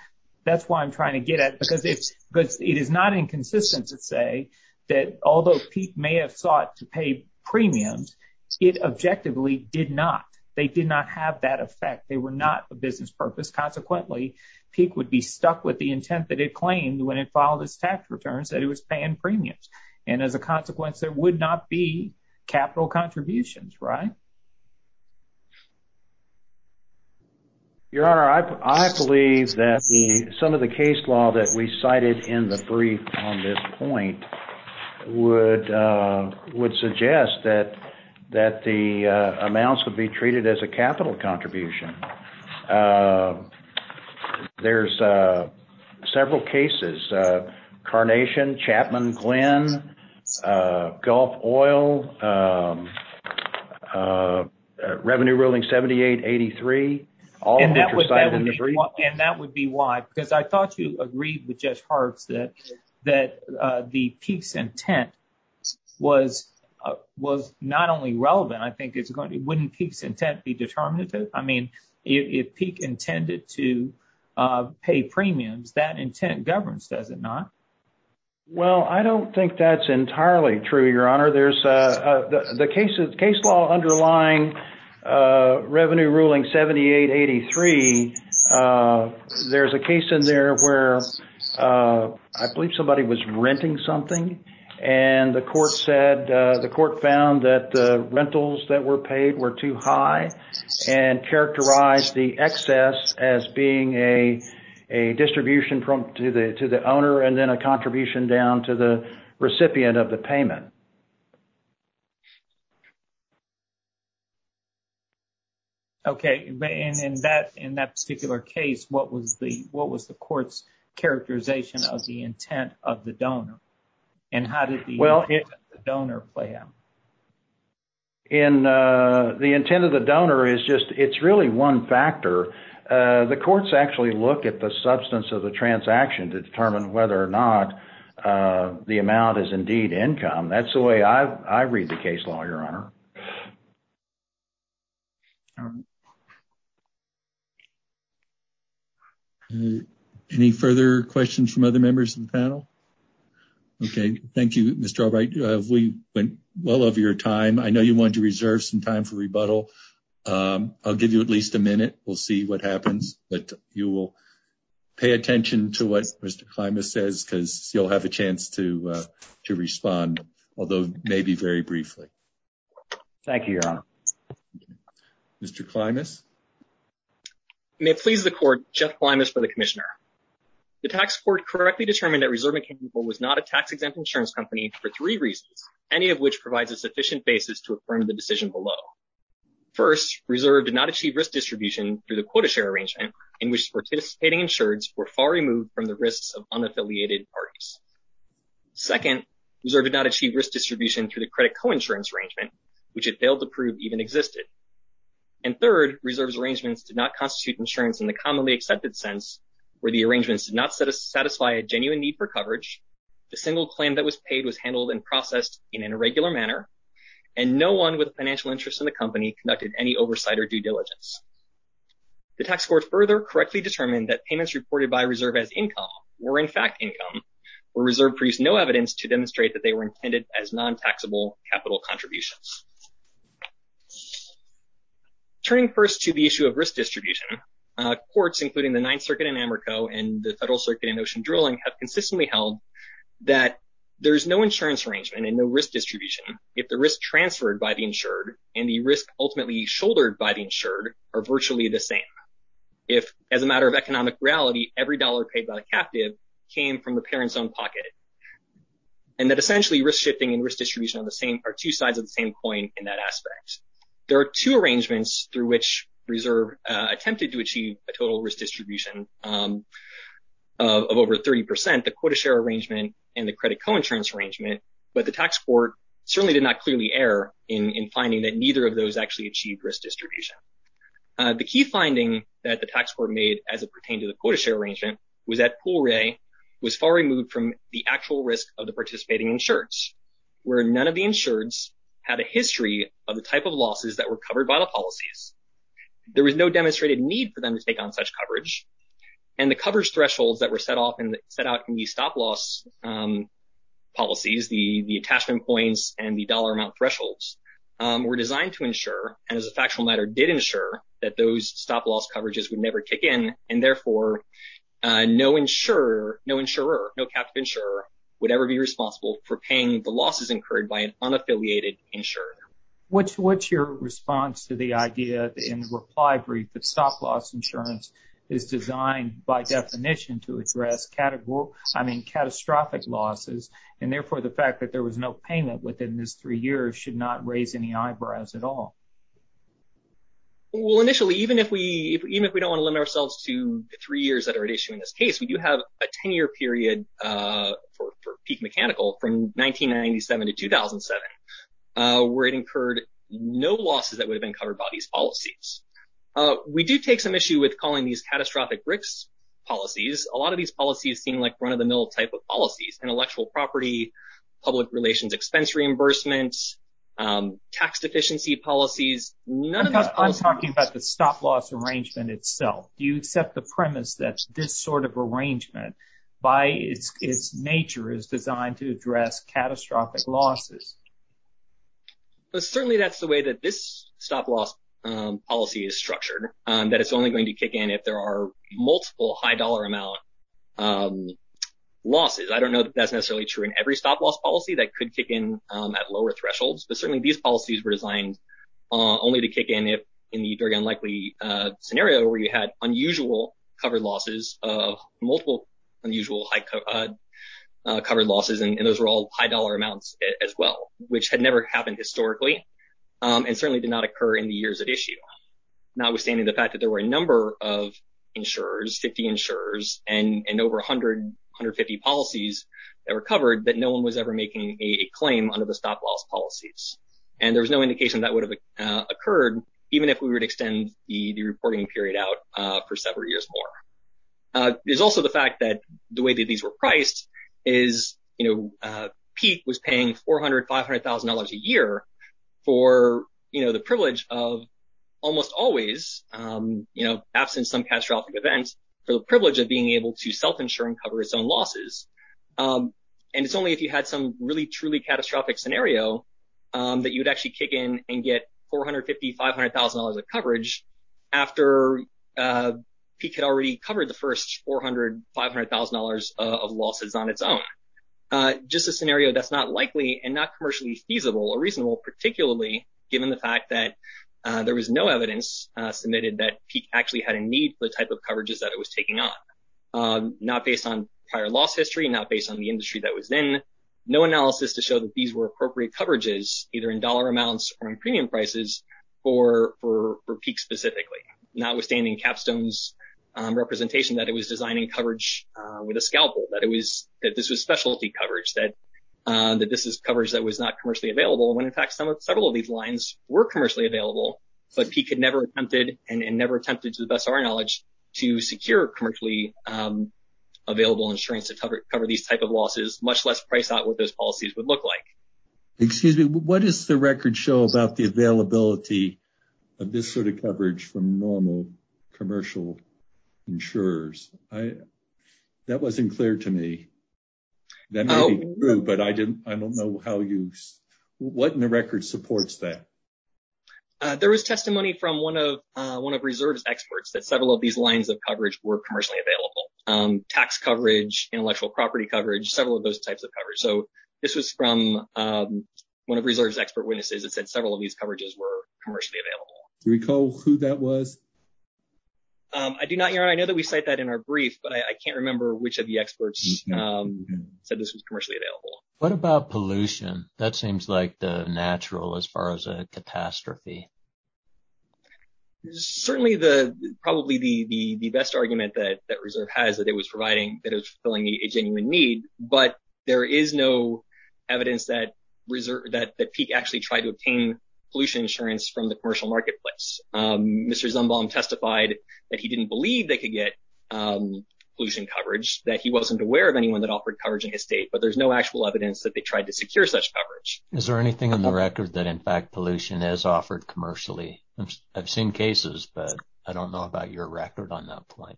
That's why I'm trying to get at it because it's, because it is not inconsistent to say that although peak may have sought to pay premiums, it objectively did not. They did not have that effect. They were not the business purpose. Consequently, peak would be stuck with the intent that it claimed when it filed its tax returns, that it was paying premiums. And as a consequence, there would not be capital contributions, right? Your Honor, I believe that some of the case law that we cited in the brief on this point would suggest that the amounts would be treated as a capital contribution. There's several cases, Carnation, Chapman Glen, Gulf Oil, Revenue Ruling 7883. And that would be why, because I thought you agreed with Judge Hart that the peak's intent was not only relevant, I think it's going to, wouldn't peak's intent be determinative? I mean, if peak intended to pay premiums, that intent governs, does it not? Well, I don't think that's entirely true, Your Honor. There's, the case law underlying Revenue Ruling 7883, there's a case in there where I believe somebody was renting something and the court said, the court found that the rentals that were paid were too high and characterized the excess as being a distribution to the owner and then a contribution down to the recipient of the payment. Okay. And in that particular case, what was the court's characterization of the intent of the donor? And how did the donor play out? In the intent of the donor is just, it's really one factor. The courts actually look at the substance of the transaction to determine whether or not the amount is indeed income. That's the way I read the case law, Your Honor. Any further questions from other members of the panel? Okay. Thank you, Mr. Albright. We went well over your time. I know you wanted to reserve some time for rebuttal. I'll give you at least a minute. We'll see what happens, but you will pay attention to what Mr. Klimas says, because you'll have a chance to respond, although maybe very briefly. Thank you, Your Honor. Mr. Klimas. May it please the court, Jeff Klimas for the Commissioner. The tax court correctly determined that Reserve Mechanical was not a tax-exempt insurance company for three reasons, any of which provides a sufficient basis to affirm the decision below. First, Reserve did not achieve risk distribution through the quota share arrangement in which participating insureds were far removed from the risks of unaffiliated parties. Second, Reserve did not achieve risk distribution through the credit coinsurance arrangement, which it failed to prove even existed. And third, Reserve's arrangements did not constitute insurance in the commonly accepted sense where the arrangements did not satisfy a genuine need for coverage, the single claim that was paid was handled and processed in an irregular manner, and no one with financial interest in the company conducted any oversight or due diligence. The tax court further correctly determined that payments reported by Reserve as income were in fact income, where Reserve produced no evidence to demonstrate that they were intended as non-taxable capital contributions. Turning first to the issue of risk distribution, courts including the Ninth Circuit in Americo and the Federal Circuit in Ocean Drilling have consistently held that there's no insurance arrangement and no risk distribution if the risk transferred by the insured and the risk ultimately shouldered by the insured are virtually the same. If as a matter of economic reality, every dollar paid by a captive came from the parent's own pocket, and that essentially risk shifting and risk distribution on the same are two sides of the same coin in that aspect. There are two arrangements through which Reserve attempted to achieve a total risk distribution of over 30%, the quota share arrangement and the credit co-insurance arrangement, but the tax court certainly did not clearly err in finding that neither of those actually achieved risk distribution. The key finding that the tax court made as it pertained to the quota share arrangement was that Pool Ray was far removed from the actual risk of the participating insureds, where none of the insureds had a history of the type of losses that were covered by the policies. There was no demonstrated need for them to take on such coverage, and the coverage thresholds that were set off and set out in the stop-loss policies, the attachment coins and the dollar amount thresholds, were designed to ensure, and as a factual matter did ensure, that those stop-loss coverages would never kick in and therefore no insurer, no insurer, no captive insurer would ever be responsible for paying the losses incurred by an unaffiliated insurer. What's your response to the idea, in reply brief, that stop-loss insurance is designed by definition to address catastrophic losses and therefore the fact that there was no payment within this three years should not raise any eyebrows at all? Well initially, even if we don't want to limit ourselves to the three years that were incurred, no losses that would have been covered by these policies. We do take some issue with calling these catastrophic risk policies. A lot of these policies seem like run-of-the-mill type of policies, intellectual property, public relations expense reimbursements, tax deficiency policies. I'm talking about the stop-loss arrangement itself. You set the premise that this sort of arrangement, by its nature, is designed to address catastrophic losses. But certainly that's the way that this stop-loss policy is structured, that it's only going to kick in if there are multiple high dollar amount losses. I don't know that that's necessarily true in every stop-loss policy that could kick in at lower thresholds, but certainly these policies were designed only to kick in if, in the very unlikely scenario where you had unusual covered losses, multiple unusual covered losses, and those were all high dollar amounts as well, which had never happened historically and certainly did not occur in the years at issue. Notwithstanding the fact that there were a number of insurers, 50 insurers, and over 100, 150 policies that were covered, that no one was ever making a claim under the stop-loss policies. And there was no indication that would have occurred even if we would extend the reporting period out for several years more. There's also the fact that the way that these were priced is, you know, PEAT was paying $400,000, $500,000 a year for, you know, the privilege of almost always, you know, absent some catastrophic events, for the privilege of being able to self-insure and cover its own losses. And it's only if you had some really truly catastrophic scenario that you would actually kick in and get $450,000, $500,000 of coverage after PEAT had already covered the first $400,000, $500,000 of losses on its own. Just a scenario that's not likely and not commercially feasible or reasonable, particularly given the fact that there was no evidence submitted that PEAT actually had a need for the type of coverages that it was taking on. Not based on prior loss history, not based on the industry that it was in, no analysis to show that these were appropriate coverages either in dollar amounts or in premium prices for PEAT specifically. Notwithstanding Capstone's representation that it was designing coverage with a scalpel, that this was specialty coverage, that this was coverage that was not commercially available, when in fact several of these lines were commercially available, but PEAT had never attempted, and never attempted to the best of our much less priced out what those policies would look like. Excuse me, what does the record show about the availability of this sort of coverage from normal commercial insurers? That wasn't clear to me. That may be true, but I don't know how you, what in the record supports that? There was testimony from one of reserve's experts that several of these lines of coverage were commercially available. Tax coverage, intellectual property coverage, several of those types of coverage. So, this was from one of reserve's expert witnesses that said several of these coverages were commercially available. Do you recall who that was? I do not, your honor. I know that we cite that in our brief, but I can't remember which of the experts said this was commercially available. What about pollution? That seems like the natural as far as a catastrophe. Certainly the, probably the best argument that it was providing that it was fulfilling a genuine need, but there is no evidence that PEAT actually tried to obtain pollution insurance from the commercial marketplace. Mr. Zumbong testified that he didn't believe they could get pollution coverage, that he wasn't aware of anyone that offered coverage in his state, but there's no actual evidence that they tried to secure such coverage. Is there anything in the record that, in fact, pollution is offered commercially? I've seen cases, but I don't know about your record on that point.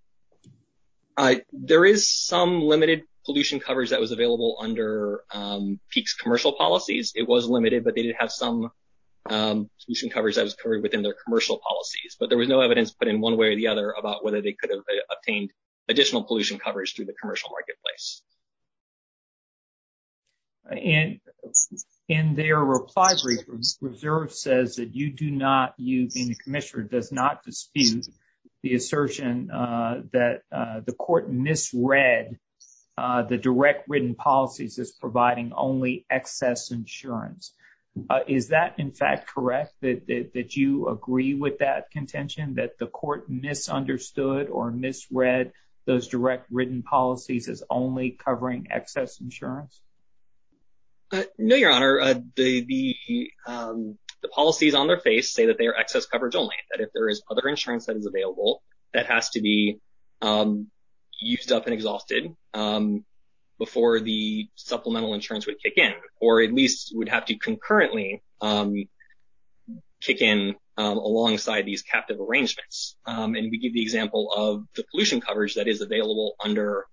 There is some limited pollution coverage that was available under PEAT's commercial policies. It was limited, but they did have some pollution coverage that was covered within their commercial policies, but there was no evidence, but in one way or the other, about whether they could have obtained additional pollution coverage through the commercial marketplace. And in their replies, reserve says that you do not, you being the commissioner, does not dispute the assertion that the court misread the direct written policies as providing only excess insurance. Is that, in fact, correct, that you agree with that contention, that the court misunderstood or misread those direct written policies as only covering excess insurance? No, Your Honor. The policies on their face say that they are excess coverage only, that if there is other insurance that is available, that has to be used up and exhausted before the supplemental insurance would kick in, or at least would have to concurrently kick in alongside these captive arrangements. And we give the example of the pollution coverage that is available under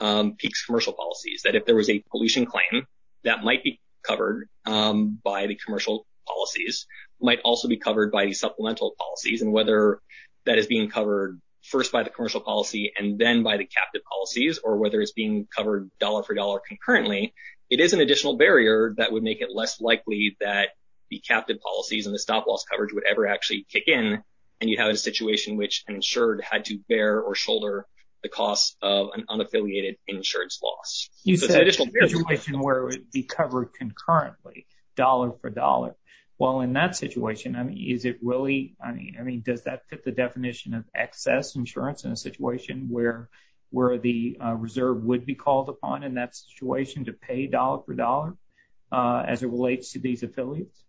PEAT's commercial policies, that if there was a pollution claim that might be covered by the commercial policies, might also be covered by the supplemental policies, and whether that is being covered first by the commercial policy and then by the captive policies, or whether it's being covered dollar for dollar concurrently, it is an additional barrier that would make it less likely that the captive policies and the stop loss coverage would actually kick in, and you have a situation in which insured had to bear or shoulder the cost of an unaffiliated insurance loss. You said it's a situation where it would be covered concurrently, dollar for dollar. Well, in that situation, is it really, I mean, does that fit the definition of excess insurance in a situation where the reserve would be called upon in that situation to pay dollar for dollar as it relates to these affiliates?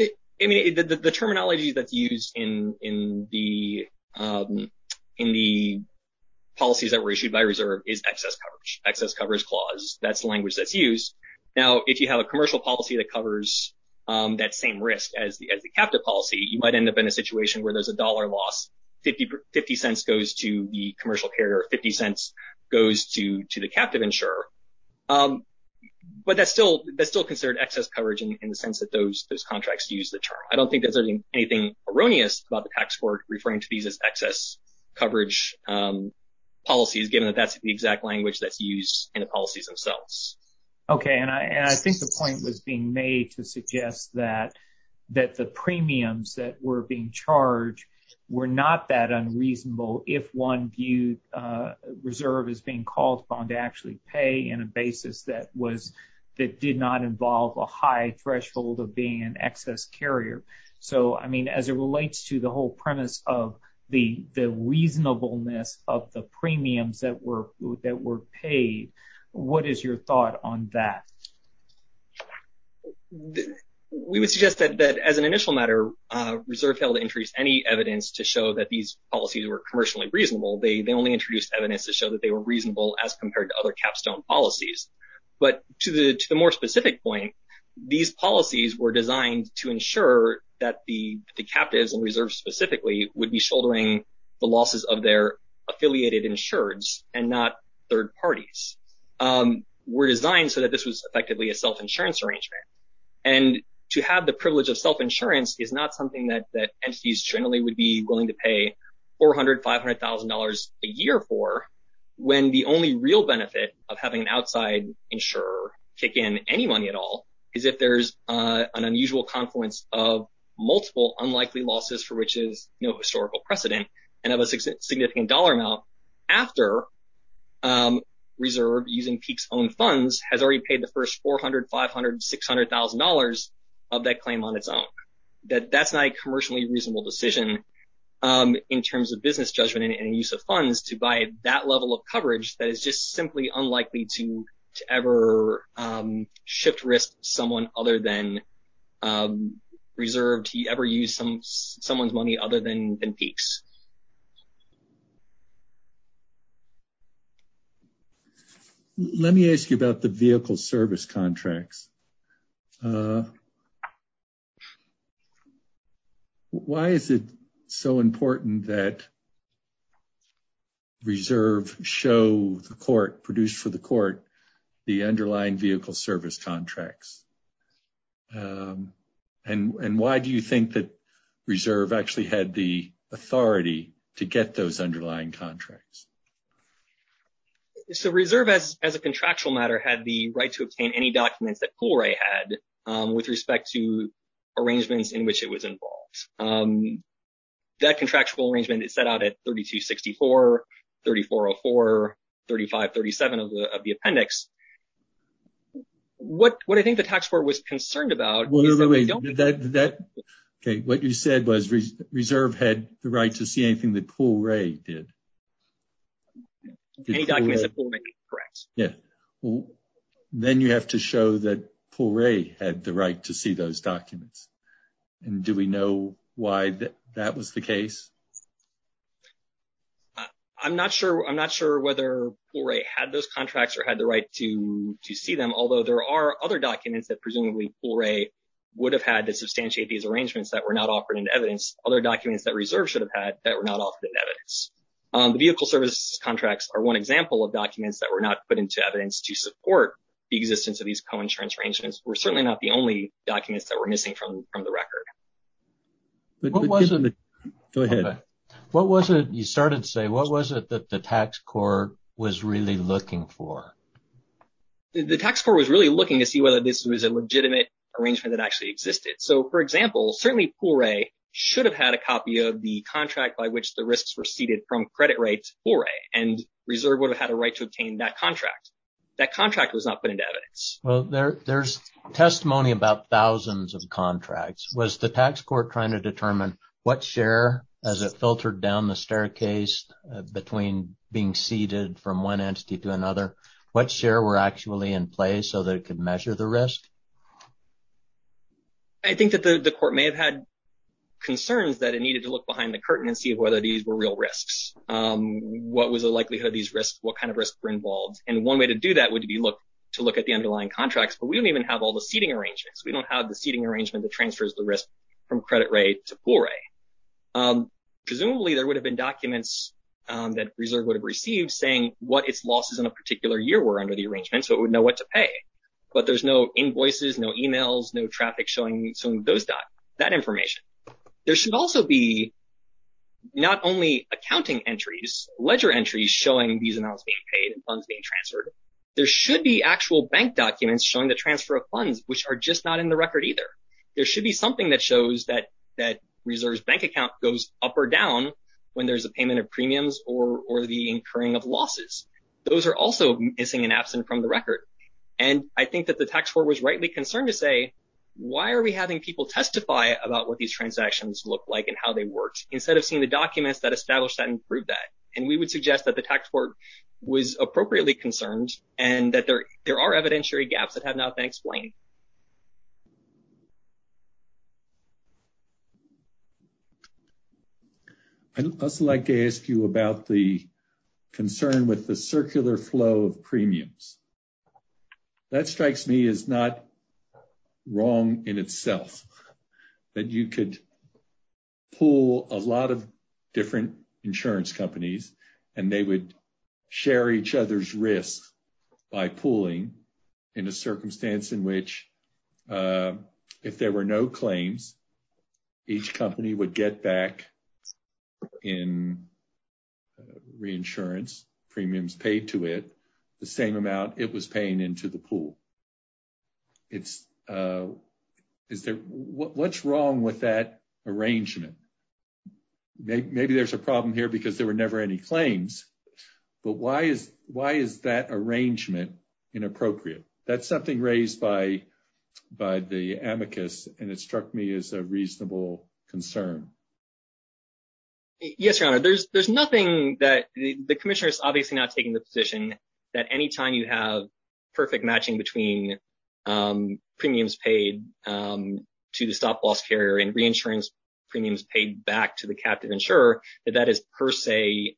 I mean, the terminology that's used in the policies that were issued by reserve is excess coverage, excess coverage clause. That's the language that's used. Now, if you have a commercial policy that covers that same risk as the captive policy, you might end up in a situation where there's a dollar loss, 50 cents goes to the commercial carrier, 50 cents goes to the captive insurer. But that's still considered excess coverage in the sense that those contracts use the term. I don't think there's anything erroneous about the tax court referring to these as excess coverage policies, given that that's the exact language that's used in the policies themselves. Okay. And I think the point was being made to suggest that the premiums that were being charged were not that unreasonable if one views reserve as being called upon to actually pay in a basis that did not involve a high threshold of being an excess carrier. So, I mean, as it relates to the whole premise of the reasonableness of the premiums that were paid, what is your thought on that? We would suggest that as an initial matter, reserve failed to introduce any evidence to show that these policies were commercially reasonable. They only introduced evidence to show that they were reasonable as compared to other capstone policies. But to the more specific point, these policies were designed to ensure that the captives and reserves specifically would be shouldering the losses of their affiliated insureds and not third parties. Were designed so that this was effectively a self-insurance arrangement. And to have the privilege of self-insurance is not something that entities generally would be willing to pay $400,000, $500,000 a year for, when the only real benefit of having an outside insurer kick in any money at all is if there's an unusual confluence of multiple unlikely losses for which is no historical precedent and of a significant dollar amount after reserve, using peaks own funds, has already paid the first $400,000, $500,000, $600,000 of that claim on its own. That's not a commercially reasonable decision in terms of business judgment and use of funds to buy that level of coverage that is just simply unlikely to ever shift risk someone other than reserve to ever use someone's money other than peaks. Let me ask you about the vehicle service contracts. Why is it so important that reserve show the court, produced for the court, the underlying vehicle service contracts? And why do you think that reserve actually had the authority to do that? To get those underlying contracts? So reserve, as a contractual matter, had the right to obtain any documents that Pool Ray had with respect to arrangements in which it was involved. That contractual arrangement is set out at 3264, 3404, 3537 of the appendix. What I think the tax court was concerned about... What you said was reserve had the right to see anything that Pool Ray did. Then you have to show that Pool Ray had the right to see those documents. Do we know why that was the case? I'm not sure whether Pool Ray had those contracts or had the right to see them, although there are other documents that presumably Pool Ray would have had to that were not offered in evidence. Other documents that reserve should have had that were not offered in evidence. The vehicle service contracts are one example of documents that were not put into evidence to support the existence of these co-insurance arrangements. We're certainly not the only documents that were missing from the record. You started to say, what was it that the tax court was really looking for? The tax court was really looking to see whether this was a legitimate arrangement that actually existed. For example, certainly Pool Ray should have had a copy of the contract by which the risks were seeded from credit rates Pool Ray, and reserve would have had a right to obtain that contract. That contract was not put into evidence. Well, there's testimony about thousands of contracts. Was the tax court trying to determine what share, as it filtered down the staircase between being seeded from one entity to another, what share were actually in place so that it could measure the risk? I think that the court may have had concerns that it needed to look behind the curtain and see whether these were real risks. What was the likelihood of these risks? What kind of risks were involved? And one way to do that would be to look at the underlying contracts, but we don't even have all the seeding arrangements. We don't have the seeding arrangement that transfers the risk from credit rate to Pool Ray. Presumably, there would have been documents that reserve would have received saying what its losses in a particular year were under the arrangement, so it would know what to pay. But there's no invoices, no emails, no traffic showing those dots, that information. There should also be not only accounting entries, ledger entries showing these amounts being paid and funds being transferred. There should be actual bank documents showing the transfer of funds, which are just not in the record either. There should be something that shows that reserve's bank account goes up or down when there's a payment of premiums or the incurring of losses. Those are also missing and absent from the record. And I think that the tax court was rightly concerned to say, why are we having people testify about what these transactions look like and how they work, instead of seeing the documents that establish that and prove that? And we would suggest that the tax court was appropriately concerned and that there are evidentiary gaps that have not been explained. I'd also like to ask you about the concern with the circular flow of premiums. That strikes me as not wrong in itself, that you could pull a lot of different insurance companies and they would share each other's risk by pooling in a circumstance in which, if there were no claims, each company would get back in reinsurance premiums paid to it, the same amount it was paying into the pool. What's wrong with that arrangement? Maybe there's a problem here because there were never any claims, but why is that arrangement inappropriate? That's something raised by the amicus and it struck me as a reasonable concern. Yes, Your Honor, there's nothing that... The commissioner is obviously not taking the position that anytime you have perfect matching between premiums paid to the soft loss carrier and reinsurance premiums paid back to the captive insurer, that that is per se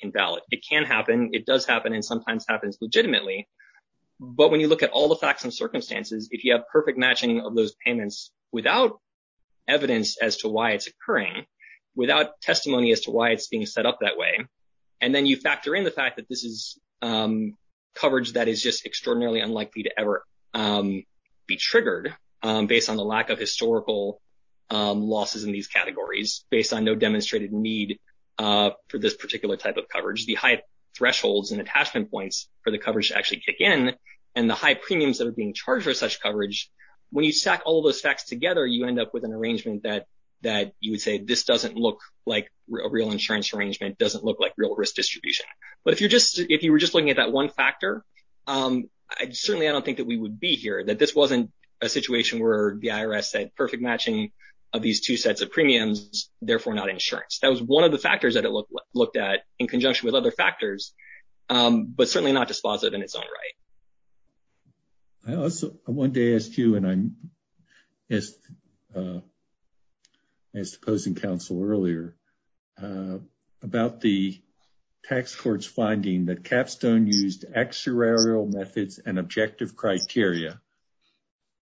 invalid. It can happen, it does happen, and sometimes happens legitimately. But when you look at all the facts and circumstances, if you have perfect matching of those payments without evidence as to why it's occurring, without testimony as to why it's being set up that way, and then you factor in the fact that this is coverage that is just extraordinarily unlikely to ever be triggered based on the lack of historical losses in these categories, based on no demonstrated need for this particular type of coverage, the high thresholds and attachment points for the coverage to actually kick in, and the high premiums that are being charged for such coverage, when you stack all those facts together, you end up with an arrangement that you would say, this doesn't look like a real insurance arrangement, doesn't look like real risk distribution. But if you were just looking at that one factor, certainly I don't think that we would be here, that this wasn't a situation where the IRS said, perfect matching of these two sets of premiums, therefore not insurance. That was one of the factors that it looked at in conjunction with other factors, but certainly not dispositive in its own right. I also, one day asked you, and I missed closing council earlier, about the tax court's finding that Capstone used actuarial methods and objective criteria.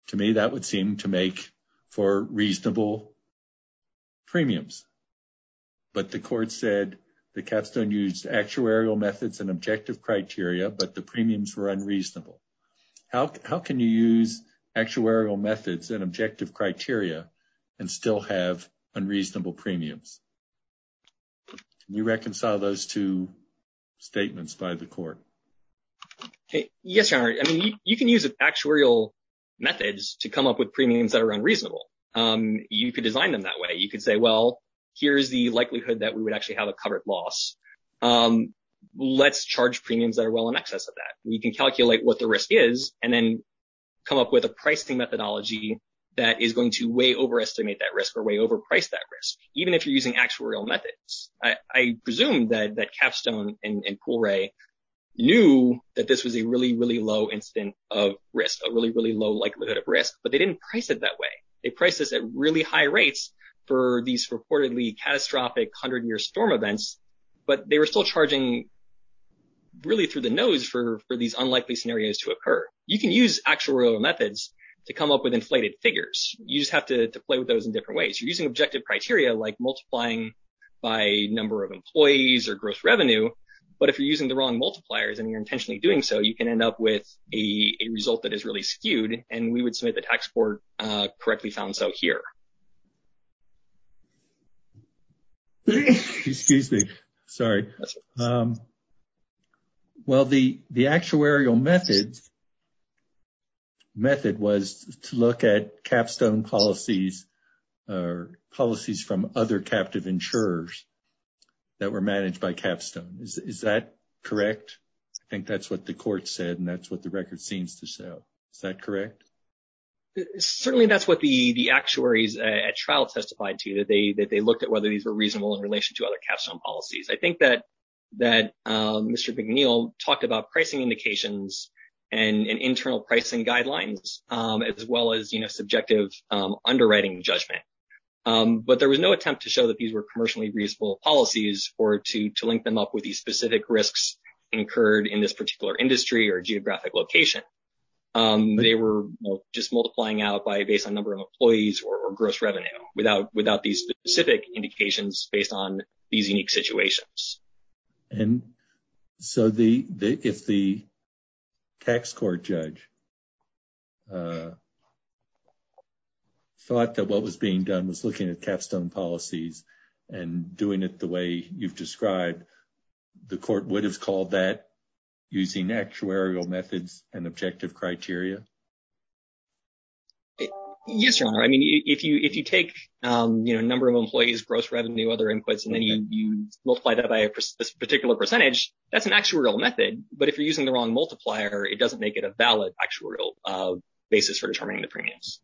To me, that would seem to make for reasonable premiums. But the court said that Capstone used actuarial methods and objective criteria, but the premiums were unreasonable. How can you use actuarial methods and objective criteria and still have unreasonable premiums? Can you reconcile those two statements by the court? Okay, yes, your honor. I mean, you can use actuarial methods to come up with premiums that are unreasonable. You could design them that way. You could say, well, here's the likelihood that we would actually have a covered loss. Let's charge premiums that are well in excess of that. We can calculate what the risk is and then come up with a pricing methodology that is going to way overestimate that risk or way overprice that risk, even if you're using actuarial methods. I presume that Capstone and Poole Ray knew that this was a really, really low instance of risk, a really, really low likelihood of risk, but they didn't price it that way. They priced this at really high rates for these reportedly catastrophic hundred-year storm events, but they were still charging really through the nose for these unlikely scenarios to occur. You can use actuarial methods to come up with inflated figures. You just have to play with those in different ways. You're using objective criteria like multiplying by number of employees or gross revenue, but if you're using the wrong multipliers and you're intentionally doing so, you can end up with a result that is really skewed, and we would say the tax court correctly found so here. Excuse me. Sorry. Well, the actuarial method was to look at Capstone policies or policies from other captive insurers that were managed by Capstone. Is that correct? I think that's what the court said, and that's what the record seems to say. Is that correct? Certainly, that's what the actuaries at trial testified to. They looked at whether these were reasonable in relation to other Capstone policies. I think that Mr. McNeil talked about pricing indications and internal pricing guidelines, as well as subjective underwriting judgment, but there was no attempt to show that these were commercially reasonable policies or to link them up with these specific risks incurred in this particular industry or geographic location. They were just multiplying out based on number of employees or gross revenue without these specific indications based on these unique situations. If the tax court judge thought that what was being done was looking at Capstone policies and doing it the way you've described, the court would have called that using actuarial methods and objective criteria? Yes, your honor. I mean, if you take number of employees, gross revenue, other inputs, and then you multiply that by a particular percentage, that's an actuarial method, but if you're using the wrong multiplier, it doesn't make it a valid actuarial basis for determining the premiums.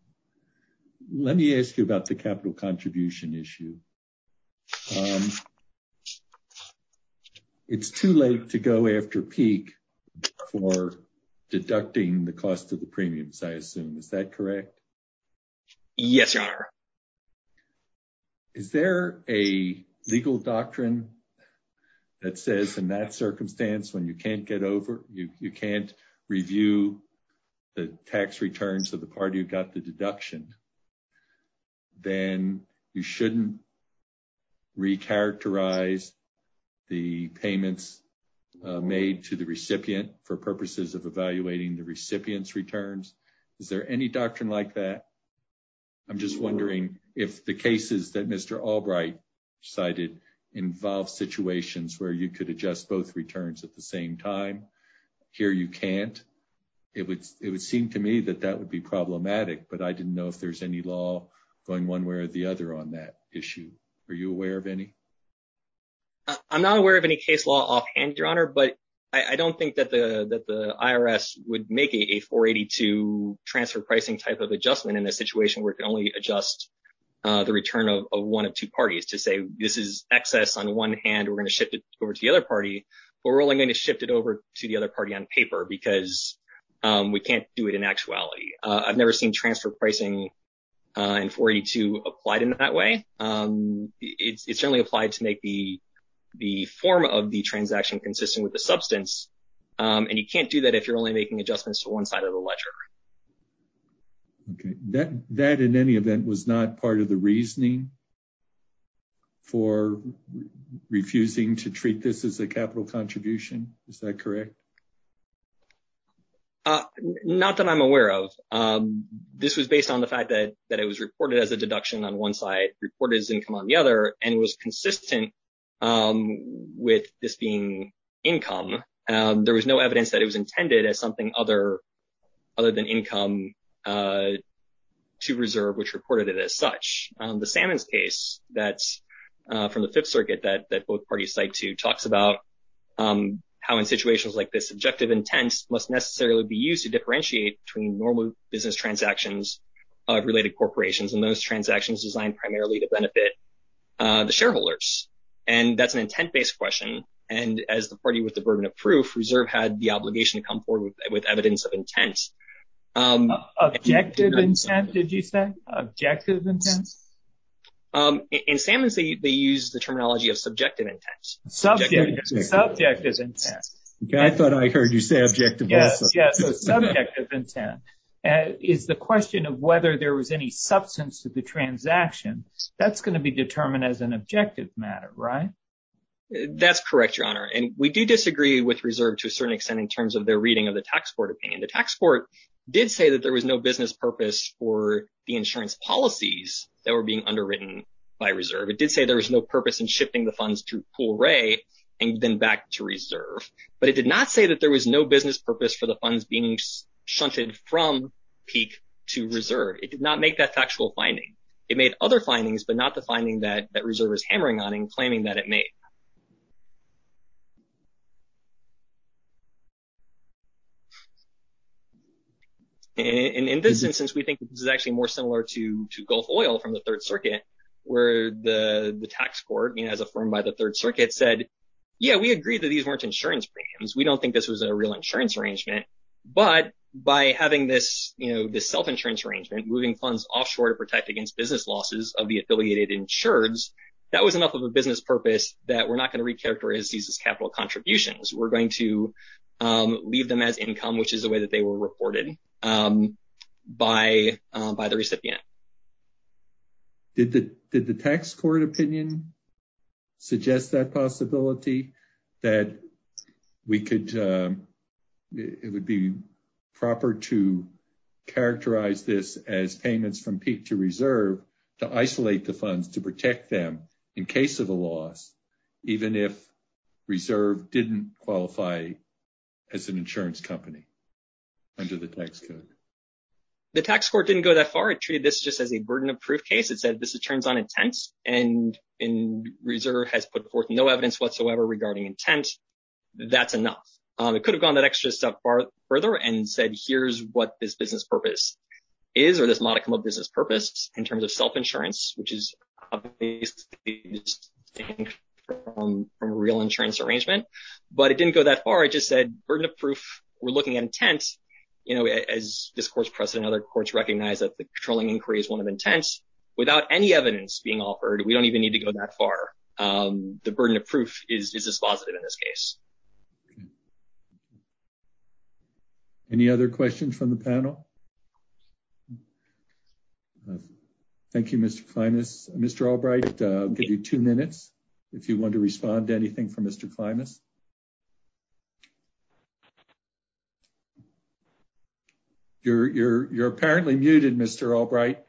Let me ask you about the capital contribution issue. Um, it's too late to go after peak for deducting the cost of the premiums, I assume. Is that correct? Yes, your honor. Is there a legal doctrine that says in that circumstance when you can't get over, you recharacterize the payments made to the recipient for purposes of evaluating the recipient's returns? Is there any doctrine like that? I'm just wondering if the cases that Mr. Albright cited involve situations where you could adjust both returns at the same time. Here you can't. It would seem to me that that would be problematic, but I didn't know if there's any law going one way or the other on that issue. Are you aware of any? I'm not aware of any case law offhand, your honor, but I don't think that the IRS would make a 482 transfer pricing type of adjustment in a situation where it can only adjust the return of one of two parties to say this is excess on one hand, we're going to shift it over to the other party, or we're only going to shift it over to the other party on paper because we can't do it in actuality. I've never seen transfer pricing in 482 applied in that way. It's only applied to make the form of the transaction consistent with the substance, and you can't do that if you're only making adjustments to one side of the ledger. That in any event was not part of the reasoning for refusing to treat this as a capital contribution, is that correct? Not that I'm aware of. This was based on the fact that it was reported as a deduction on one side, reported as income on the other, and it was consistent with this being income. There was no evidence that it was intended as something other than income to reserve, which reported it as such. The Sammons case that's from the Fifth Circuit that both parties cite to talks about how situations like this, subjective intents, must necessarily be used to differentiate between normal business transactions, related corporations, and those transactions designed primarily to benefit the shareholders. That's an intent-based question, and as the party with the burden of proof, reserve had the obligation to come forward with evidence of intent. Objective intent, did you say? Objective intent? In Sammons, they use the terminology of subjective intent. Subjective intent. I thought I heard you say objective intent. Yeah, subjective intent is the question of whether there was any substance to the transaction. That's going to be determined as an objective matter, right? That's correct, Your Honor, and we do disagree with reserve to a certain extent in terms of their reading of the tax court opinion. The tax court did say that there was no business purpose for the insurance policies that were being underwritten by reserve. It did say there was no purpose in shifting the funds through Poole Ray and then back to reserve. But it did not say that there was no business purpose for the funds being shunted from Peak to reserve. It did not make that factual finding. It made other findings, but not the finding that reserve is hammering on and claiming that it made. And in this instance, we think this is actually more similar to Gulf Oil from the Third Circuit, where the tax court, as affirmed by the Third Circuit, said, yeah, we agree that these weren't insurance premiums. We don't think this was a real insurance arrangement. But by having this self-insurance arrangement, moving funds offshore to protect against business losses of the affiliated insureds, that was enough of a business purpose that we're not going to recharacterize these as capital contributions. We're going to leave them at income, which is the way that they were reported by the recipient. Did the tax court opinion suggest that possibility, that it would be proper to characterize this as payments from Peak to reserve to isolate the funds to protect them in case of a loss, even if reserve didn't qualify as an insurance company under the tax code? The tax court didn't go that far. It treated this just as a burden of proof case. It said, this is terms on intent, and reserve has put forth no evidence whatsoever regarding intent. That's enough. It could have gone that extra step further and said, here's what this business purpose is, or this modicum of business purpose, in terms of self-insurance, which is from a real insurance arrangement. But it didn't go that far. Burden of proof, we're looking at intent. As this court's precedent, other courts recognize that the controlling inquiry is one of intent. Without any evidence being offered, we don't even need to go that far. The burden of proof is dispositive in this case. Any other questions from the panel? Thank you, Mr. Klimas. Mr. Albright, I'll give you two minutes if you want to respond to anything from Mr. Klimas. You're apparently muted, Mr. Albright.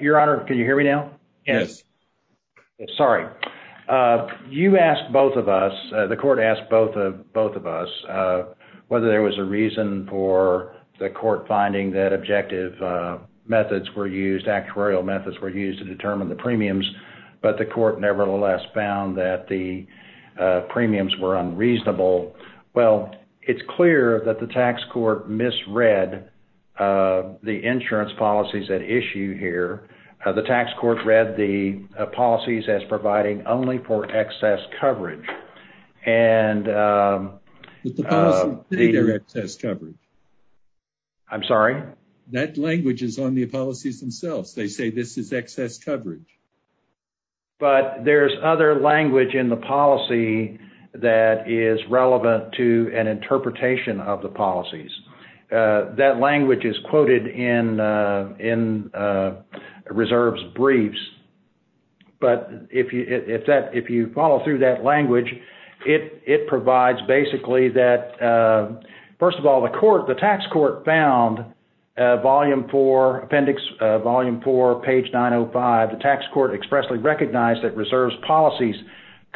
Your Honor, can you hear me now? Yes. Sorry. You asked both of us, the court asked both of us, whether there was a reason for the court finding that objective methods were used, actuarial methods were used to determine the premiums, but the court nevertheless found that the premiums were unreasonable. Well, it's clear that the tax court misread the insurance policies at issue here. The tax court read the policies as providing only for excess coverage. And... I'm sorry? That language is on the policies themselves. They say this is excess coverage. But there's other language in the policy that is relevant to an interpretation of the policies. That language is quoted in Reserves Briefs. But if you follow through that language, it provides basically that... The tax court found Volume 4, Appendix Volume 4, page 905, the tax court expressly recognized that reserves policies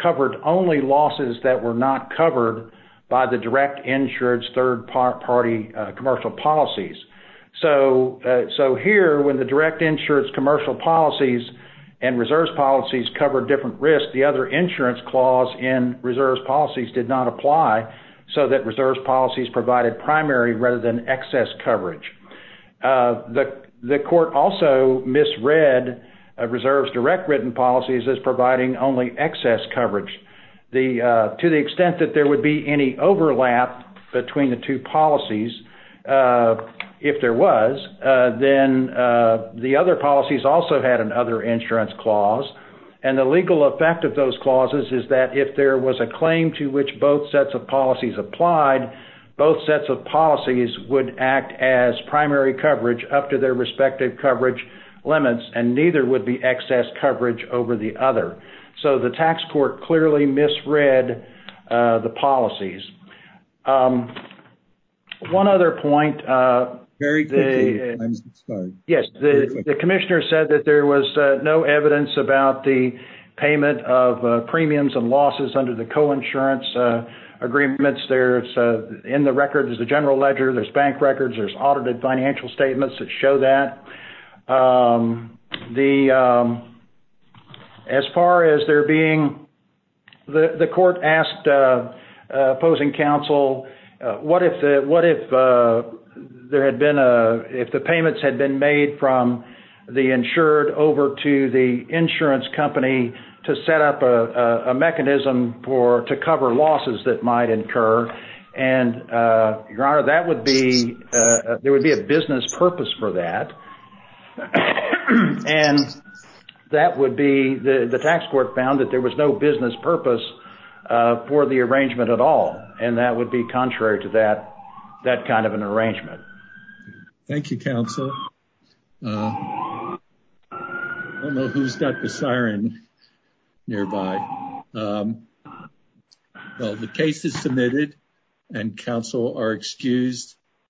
covered only losses that were not covered by the direct insurance third-party commercial policies. So here, when the direct insurance commercial policies and reserves policies covered different risks, the other insurance clause in reserves policies did not apply, so that reserves policies provided primary rather than excess coverage. The court also misread reserves direct written policies as providing only excess coverage. To the extent that there would be any overlap between the two policies, if there was, then the other policies also had an other insurance clause. And the legal effect of those clauses is that if there was a claim to which both sets of policies would act as primary coverage up to their respective coverage limits, and neither would be excess coverage over the other. So the tax court clearly misread the policies. One other point... Very quickly, I'm sorry. Yes, the commissioner said that there was no evidence about the payment of premiums and the general ledger. There's bank records. There's audited financial statements that show that. As far as there being... The court asked opposing counsel, what if there had been a... If the payments had been made from the insured over to the insurance company to set up a mechanism to cover losses that might occur? And your honor, that would be... There would be a business purpose for that. And that would be... The tax court found that there was no business purpose for the arrangement at all. And that would be contrary to that kind of an arrangement. Thank you, counsel. I don't know who's got the siren nearby. Um, well, the case is submitted and counsel are excused.